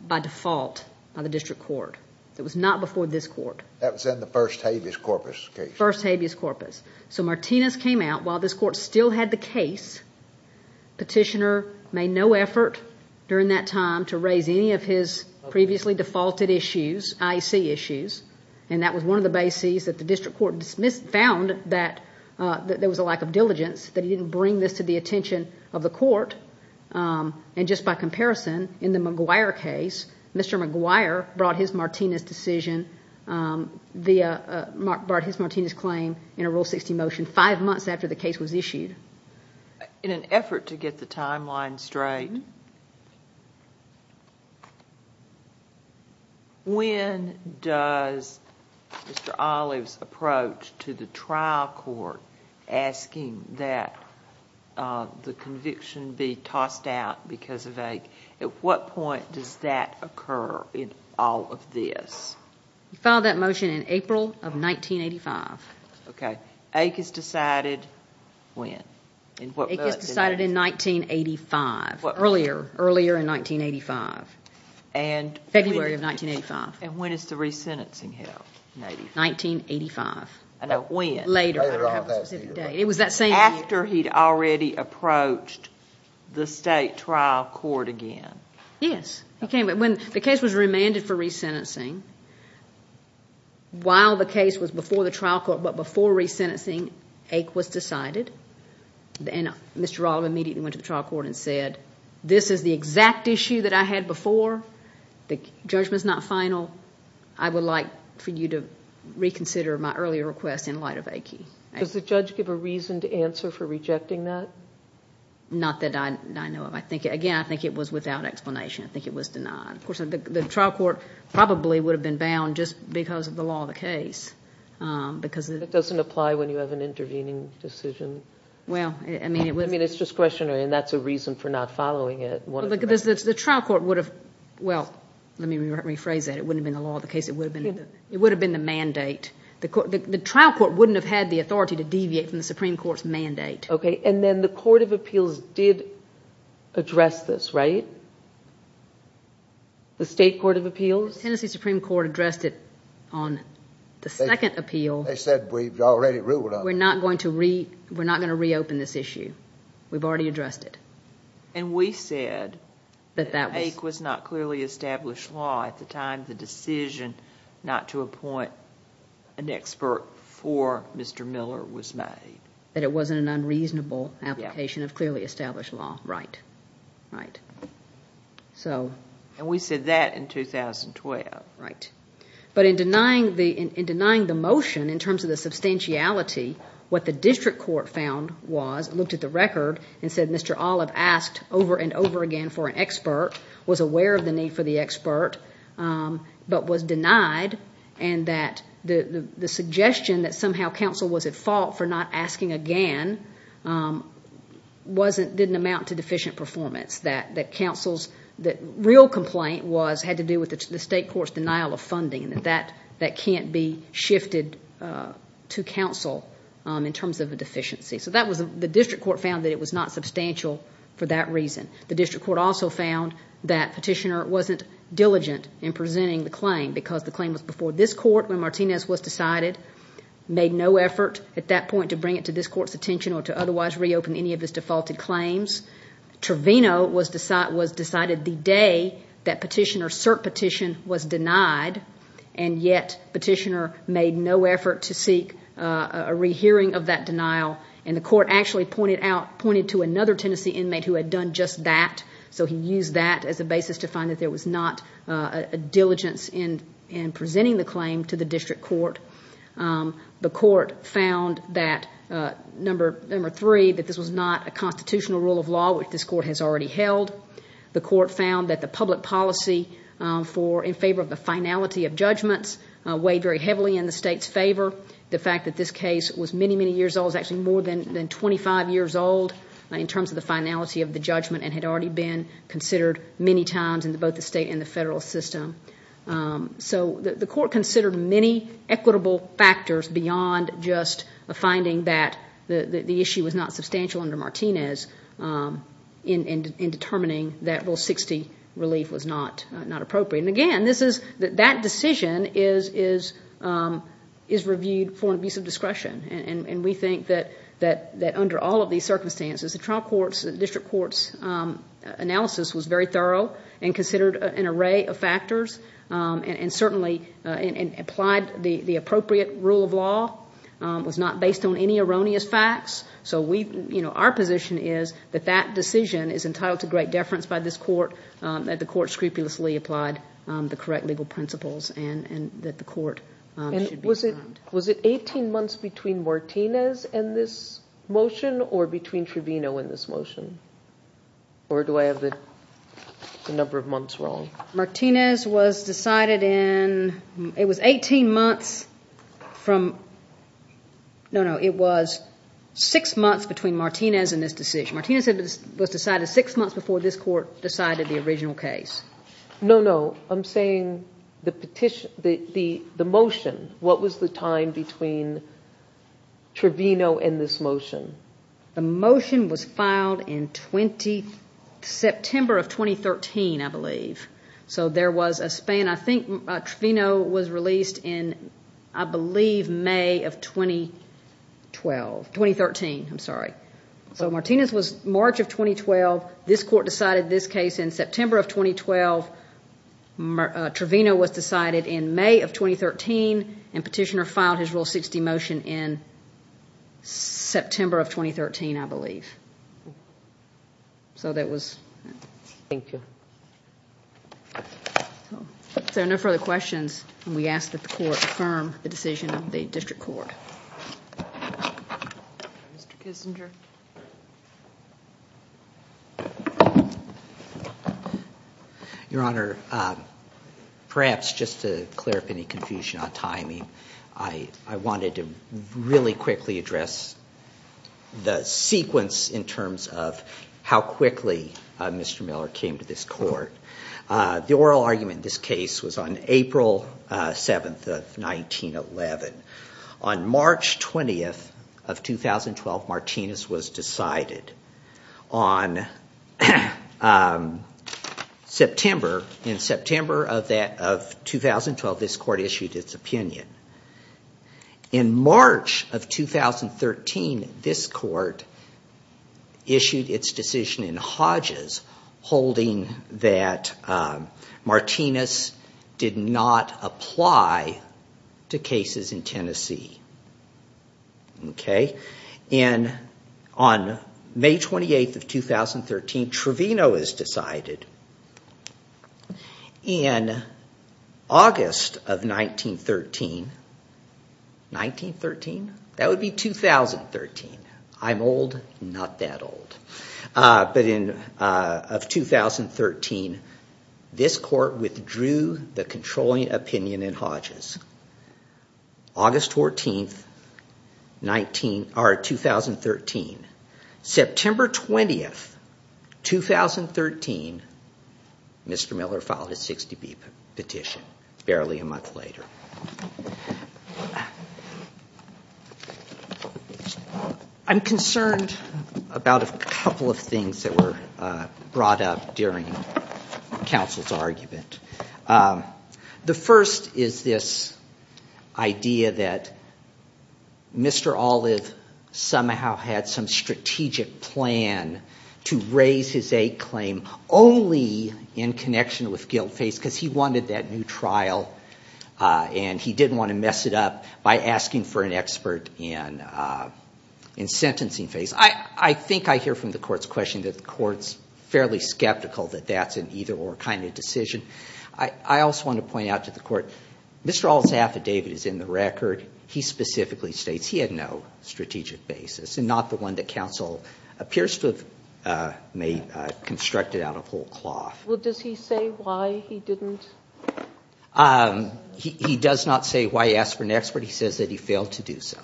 by default by the district court. It was not before this court. That was in the first habeas corpus case. First habeas corpus. So Martinez came out while this court still had the case. Petitioner made no effort during that time to raise any of his previously defaulted issues, IEC issues, and that was one of the bases that the district court found that there was a lack of diligence, that he didn't bring this to the attention of the court, and just by comparison, in the McGuire case, Mr. McGuire brought his Martinez decision, brought his Martinez claim in a Rule 60 motion five months after the case was issued. In an effort to get the timeline straight, when does Mr. Olive's approach to the trial court asking that the conviction be tossed out because of AIC, at what point does that occur in all of this? He filed that motion in April of 1985. Okay. AIC is decided when? AIC is decided in 1985. Earlier. Earlier in 1985. February of 1985. And when is the resentencing held? 1985. When? Later. It was that same year. After he'd already approached the state trial court again. Yes. When the case was remanded for resentencing, while the case was before the trial court, but before resentencing, AIC was decided, and Mr. Olive immediately went to the trial court and said, this is the exact issue that I had before, the judgment's not final, I would like for you to reconsider my earlier request in light of AIC. Does the judge give a reason to answer for rejecting that? Not that I know of. Again, I think it was without explanation. I think it was denied. Of course, the trial court probably would have been bound just because of the law of the case. It doesn't apply when you have an intervening decision. Well, I mean, it was... I mean, it's just questionary, and that's a reason for not following it. The trial court would have... Well, let me rephrase that. It wouldn't have been the law of the case. It would have been the mandate. The trial court wouldn't have had the authority to deviate from the Supreme Court's mandate. Okay, and then the Court of Appeals did address this, right? The State Court of Appeals? The Tennessee Supreme Court addressed it on the second appeal. They said, we've already ruled on it. We're not going to reopen this issue. We've already addressed it. And we said that the take was not clearly established law at the time the decision not to appoint an expert for Mr. Miller was made. That it wasn't an unreasonable application of clearly established law. Right. And we said that in 2012. Right. But in denying the motion in terms of the substantiality, what the district court found was, it looked at the record and said, Mr. Olive asked over and over again for an expert, was aware of the need for the expert, but was denied, and that the suggestion that somehow counsel was at fault for not asking again didn't amount to deficient performance. That real complaint had to do with the state court's denial of funding and that that can't be shifted to counsel in terms of a deficiency. So the district court found that it was not substantial for that reason. The district court also found that Petitioner wasn't diligent in presenting the claim because the claim was before this court when Martinez was decided, made no effort at that point to bring it to this court's attention or to otherwise reopen any of his defaulted claims. Trevino was decided the day that Petitioner's cert petition was denied, and yet Petitioner made no effort to seek a rehearing of that denial, and the court actually pointed to another Tennessee inmate who had done just that, so he used that as a basis to find that there was not a diligence in presenting the claim to the district court. The court found that, number three, that this was not a constitutional rule of law, which this court has already held. The court found that the public policy in favor of the finality of judgments weighed very heavily in the state's favor. The fact that this case was many, many years old, was actually more than 25 years old in terms of the finality of the judgment and had already been considered many times in both the state and the federal system. So the court considered many equitable factors beyond just a finding that the issue was not substantial under Martinez in determining that Rule 60 relief was not appropriate. And, again, that decision is reviewed for an abuse of discretion, and we think that under all of these circumstances, the district court's analysis was very thorough and considered an array of factors and certainly applied the appropriate rule of law. It was not based on any erroneous facts. So our position is that that decision is entitled to great deference by this court, that the court scrupulously applied the correct legal principles, and that the court should be condemned. Was it 18 months between Martinez and this motion or between Trevino and this motion? Or do I have the number of months wrong? Martinez was decided in, it was 18 months from, no, no, it was six months between Martinez and this decision. Martinez was decided six months before this court decided the original case. No, no, I'm saying the motion. What was the time between Trevino and this motion? The motion was filed in September of 2013, I believe. So there was a span. I think Trevino was released in, I believe, May of 2012, 2013. I'm sorry. So Martinez was March of 2012. This court decided this case in September of 2012. Trevino was decided in May of 2013, and Petitioner filed his Rule 60 motion in September of 2013, I believe. So that was it. Thank you. If there are no further questions, we ask that the court affirm the decision of the district court. Mr. Kissinger. Your Honor, perhaps just to clear up any confusion on timing, I wanted to really quickly address the sequence in terms of how quickly Mr. Miller came to this court. The oral argument in this case was on April 7th of 1911. On March 20th of 2012, Martinez was decided. In September of 2012, this court issued its opinion. In March of 2013, this court issued its decision in Hodges holding that Martinez did not apply to cases in Tennessee. On May 28th of 2013, Trevino is decided. In August of 1913, that would be 2013. I'm old, not that old. But of 2013, this court withdrew the controlling opinion in Hodges. August 14th, 2013. September 20th, 2013, Mr. Miller filed his 60B petition barely a month later. I'm concerned about a couple of things that were brought up during counsel's argument. The first is this idea that Mr. Olive somehow had some strategic plan to raise his aid claim only in connection with Guildface because he wanted that new trial and he didn't want to mess it up by asking for an expert in sentencing phase. I think I hear from the court's question that the court's fairly skeptical that that's an either-or kind of decision. I also want to point out to the court, Mr. Olive's affidavit is in the record. He specifically states he had no strategic basis and not the one that counsel appears to have constructed out of whole cloth. Well, does he say why he didn't? He does not say why he asked for an expert. He says that he failed to do so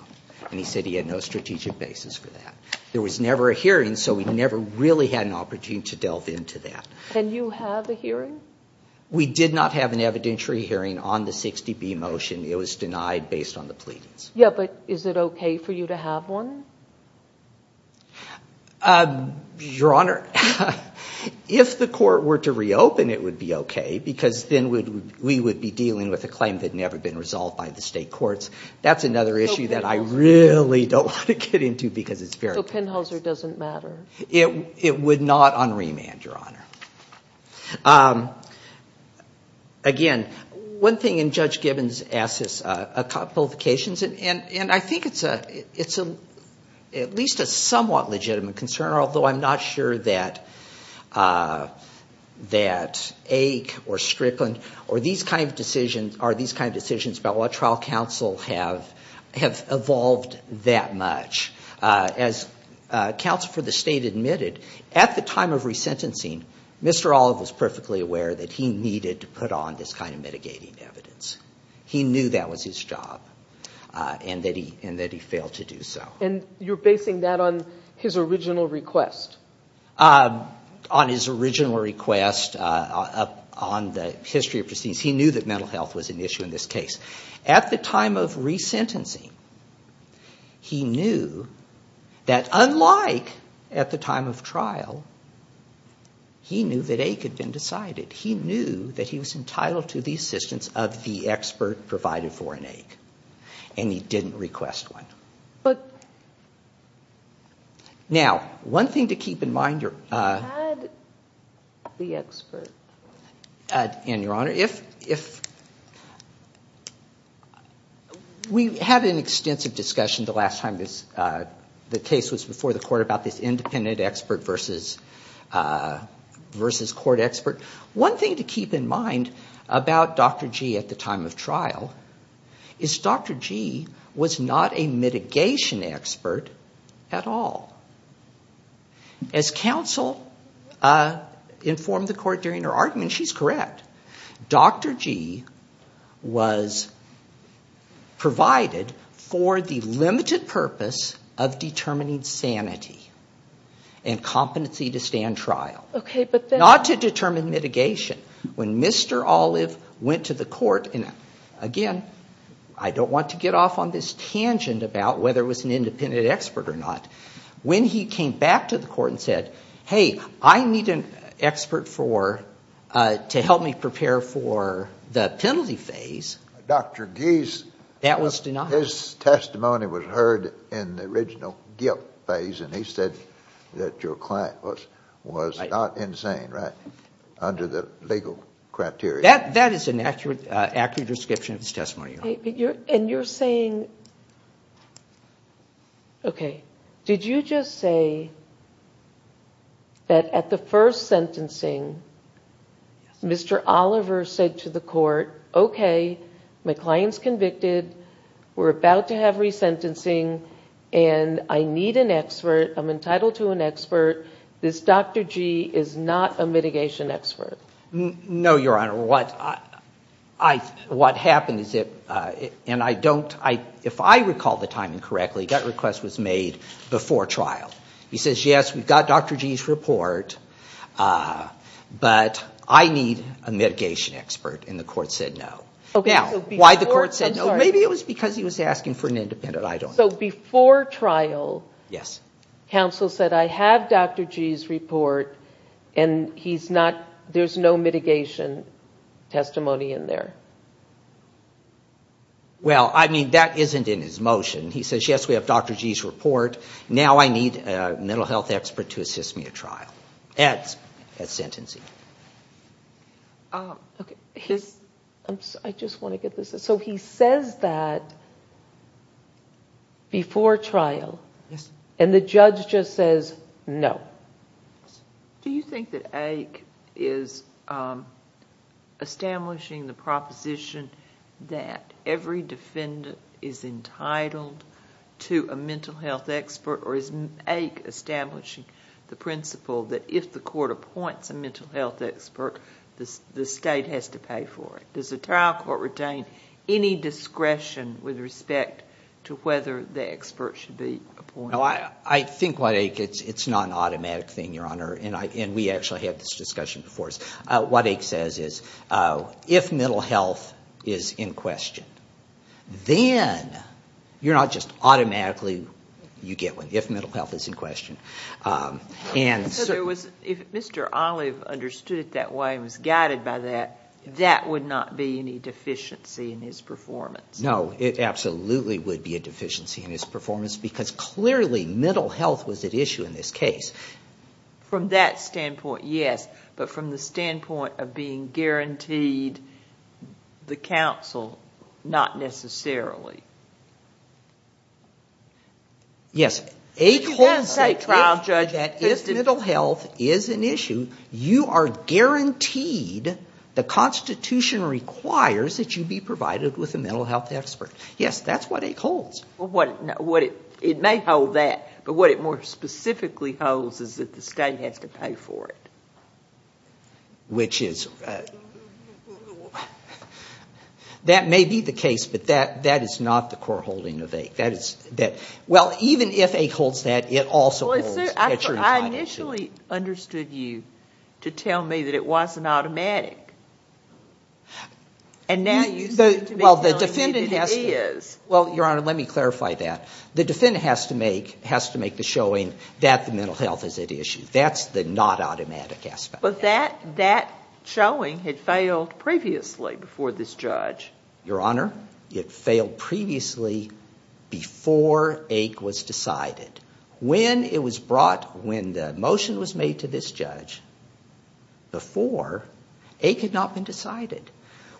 and he said he had no strategic basis for that. There was never a hearing, so we never really had an opportunity to delve into that. Can you have a hearing? We did not have an evidentiary hearing on the 60B motion. It was denied based on the pleadings. Yeah, but is it okay for you to have one? Your Honor, if the court were to reopen, it would be okay because then we would be dealing with a claim that had never been resolved by the state courts. That's another issue that I really don't want to get into because it's very complex. So Penhauser doesn't matter? It would not on remand, Your Honor. Again, one thing Judge Gibbons asked is qualifications, and I think it's at least a somewhat legitimate concern, although I'm not sure that Aik or Strickland or these kind of decisions are these kind of decisions about what trial counsel have evolved that much. As counsel for the state admitted, at the time of resentencing, Mr. Olive was perfectly aware that he needed to put on this kind of mitigating evidence. He knew that was his job and that he failed to do so. And you're basing that on his original request? On his original request, on the history of proceedings. He knew that mental health was an issue in this case. At the time of resentencing, he knew that unlike at the time of trial, he knew that Aik had been decided. He knew that he was entitled to the assistance of the expert provided for in Aik, and he didn't request one. Now, one thing to keep in mind, Your Honor. Had the expert. And, Your Honor, if we had an extensive discussion the last time this, the case was before the court about this independent expert versus court expert. One thing to keep in mind about Dr. Gee at the time of trial is Dr. Gee was not a mitigation expert at all. As counsel informed the court during her argument, she's correct. Dr. Gee was provided for the limited purpose of determining sanity and competency to stand trial. Not to determine mitigation. When Mr. Olive went to the court, and again, I don't want to get off on this tangent about whether it was an independent expert or not. When he came back to the court and said, hey, I need an expert to help me prepare for the penalty phase. Dr. Gee's testimony was heard in the original guilt phase, and he said that your client was not insane under the legal criteria. That is an accurate description of his testimony, Your Honor. And you're saying, okay. Did you just say that at the first sentencing, Mr. Oliver said to the court, okay, my client's convicted. We're about to have resentencing, and I need an expert. I'm entitled to an expert. This Dr. Gee is not a mitigation expert. No, Your Honor. What happened is that, and I don't, if I recall the timing correctly, that request was made before trial. He says, yes, we've got Dr. Gee's report, but I need a mitigation expert, and the court said no. Now, why the court said no, maybe it was because he was asking for an independent, I don't know. So before trial, counsel said, I have Dr. Gee's report, and there's no mitigation testimony in there. Well, I mean, that isn't in his motion. He says, yes, we have Dr. Gee's report. Now I need a mental health expert to assist me at trial, at sentencing. I just want to get this. So he says that before trial, and the judge just says no. Do you think that AIC is establishing the proposition that every defendant is entitled to a mental health expert, or is AIC establishing the principle that if the court appoints a mental health expert, the state has to pay for it? Does the trial court retain any discretion with respect to whether the expert should be appointed? No, I think what AIC, it's not an automatic thing, Your Honor, and we actually had this discussion before. What AIC says is if mental health is in question, then you're not just automatically you get one, if mental health is in question. So if Mr. Olive understood it that way and was guided by that, that would not be any deficiency in his performance? No, it absolutely would be a deficiency in his performance because clearly mental health was at issue in this case. From that standpoint, yes. But from the standpoint of being guaranteed the counsel, not necessarily. Yes. AIC holds that if mental health is an issue, you are guaranteed, the Constitution requires that you be provided with a mental health expert. Yes, that's what AIC holds. It may hold that, but what it more specifically holds is that the state has to pay for it. Which is, that may be the case, but that is not the core holding of AIC. Well, even if AIC holds that, it also holds that you're entitled to. I initially understood you to tell me that it wasn't automatic. And now you seem to be telling me that it is. Well, Your Honor, let me clarify that. The defendant has to make the showing that the mental health is at issue. That's the not automatic aspect. But that showing had failed previously before this judge. Your Honor, it failed previously before AIC was decided. When it was brought, when the motion was made to this judge, before, AIC had not been decided.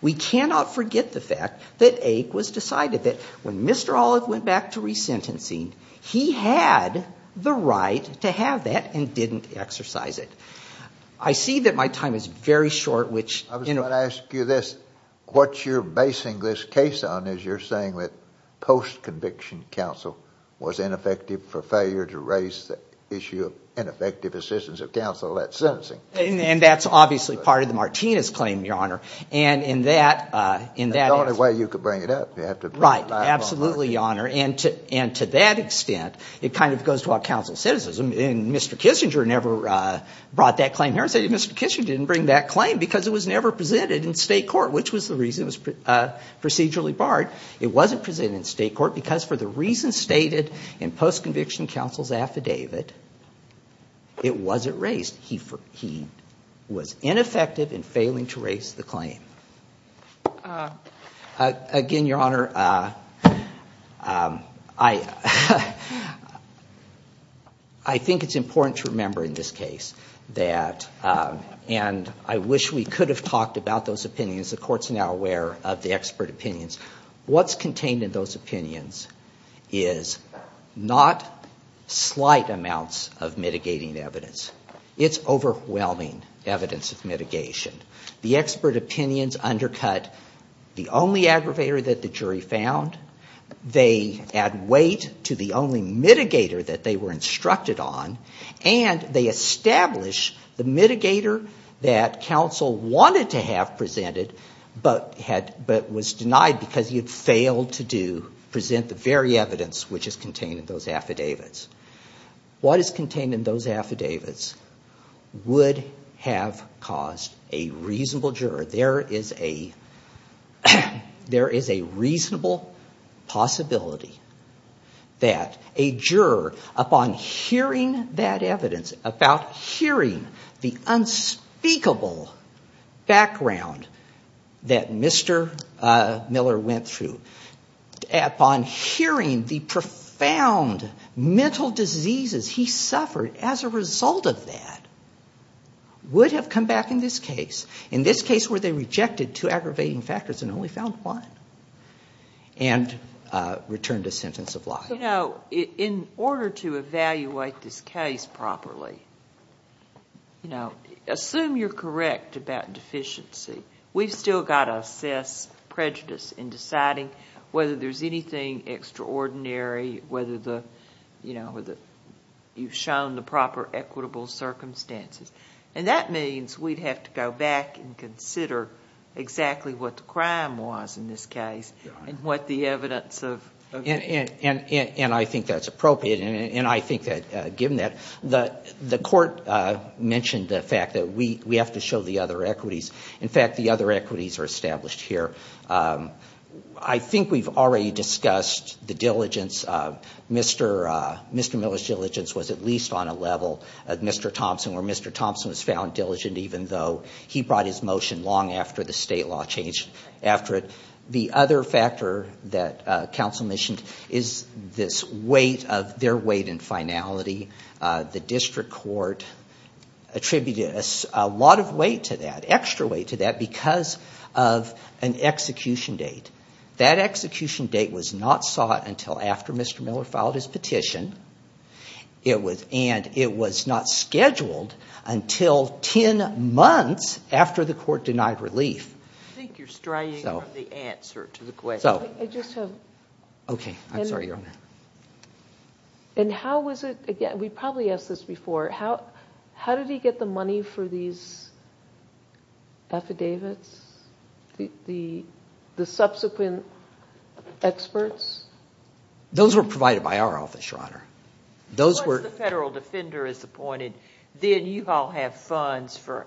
We cannot forget the fact that AIC was decided. When Mr. Olive went back to resentencing, he had the right to have that and didn't exercise it. I see that my time is very short. I was going to ask you this. What you're basing this case on is you're saying that post-conviction counsel was ineffective for failure to raise the issue of ineffective assistance of counsel at sentencing. And that's obviously part of the Martinez claim, Your Honor. And in that aspect. It's the only way you could bring it up. You have to bring it up. Right. Absolutely, Your Honor. And to that extent, it kind of goes to our counsel's cynicism. And Mr. Kissinger never brought that claim here and said, Mr. Kissinger didn't bring that claim because it was never presented in state court, which was the reason it was procedurally barred. It wasn't presented in state court because for the reasons stated in post-conviction counsel's affidavit, it wasn't raised. He was ineffective in failing to raise the claim. Again, Your Honor, I think it's important to remember in this case that, and I wish we could have talked about those opinions. The Court's now aware of the expert opinions. What's contained in those opinions is not slight amounts of mitigating evidence. It's overwhelming evidence of mitigation. The expert opinions undercut the only aggravator that the jury found. They add weight to the only mitigator that they were instructed on. And they establish the mitigator that counsel wanted to have presented, but was denied because he had failed to present the very evidence which is contained in those affidavits. What is contained in those affidavits would have caused a reasonable juror. There is a reasonable possibility that a juror, upon hearing that evidence, about hearing the unspeakable background that Mr. Miller went through, upon hearing the profound mental diseases he suffered as a result of that, would have come back in this case, in this case where they rejected two aggravating factors and only found one, and returned a sentence of life. You know, in order to evaluate this case properly, assume you're correct about deficiency. We've still got to assess prejudice in deciding whether there's anything extraordinary, whether, you know, you've shown the proper equitable circumstances. And that means we'd have to go back and consider exactly what the crime was in this case and what the evidence of... And I think that's appropriate. And I think that, given that, the court mentioned the fact that we have to show the other equities. In fact, the other equities are established here. I think we've already discussed the diligence. Mr. Miller's diligence was at least on a level of Mr. Thompson, where Mr. Thompson was found diligent even though he brought his motion long after the state law changed after it. The other factor that counsel mentioned is this weight of... their weight and finality. The district court attributed a lot of weight to that, extra weight to that, because of an execution date. That execution date was not sought until after Mr. Miller filed his petition. And it was not scheduled until 10 months after the court denied relief. I think you're straying from the answer to the question. I just have... Okay. I'm sorry, Your Honor. And how was it... again, we probably asked this before. How did he get the money for these affidavits, the subsequent experts? Those were provided by our office, Your Honor. Once the federal defender is appointed, then you all have funds for...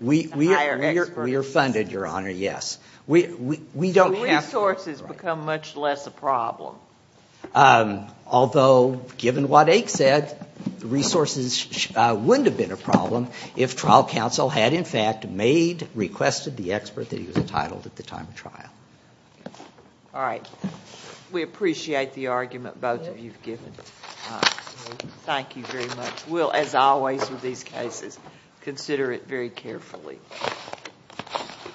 We are funded, Your Honor, yes. So resources become much less a problem. Although, given what Ake said, resources wouldn't have been a problem if trial counsel had, in fact, made... requested the expert that he was entitled at the time of trial. All right. We appreciate the argument both of you have given. Thank you very much. We'll, as always with these cases, consider it very carefully.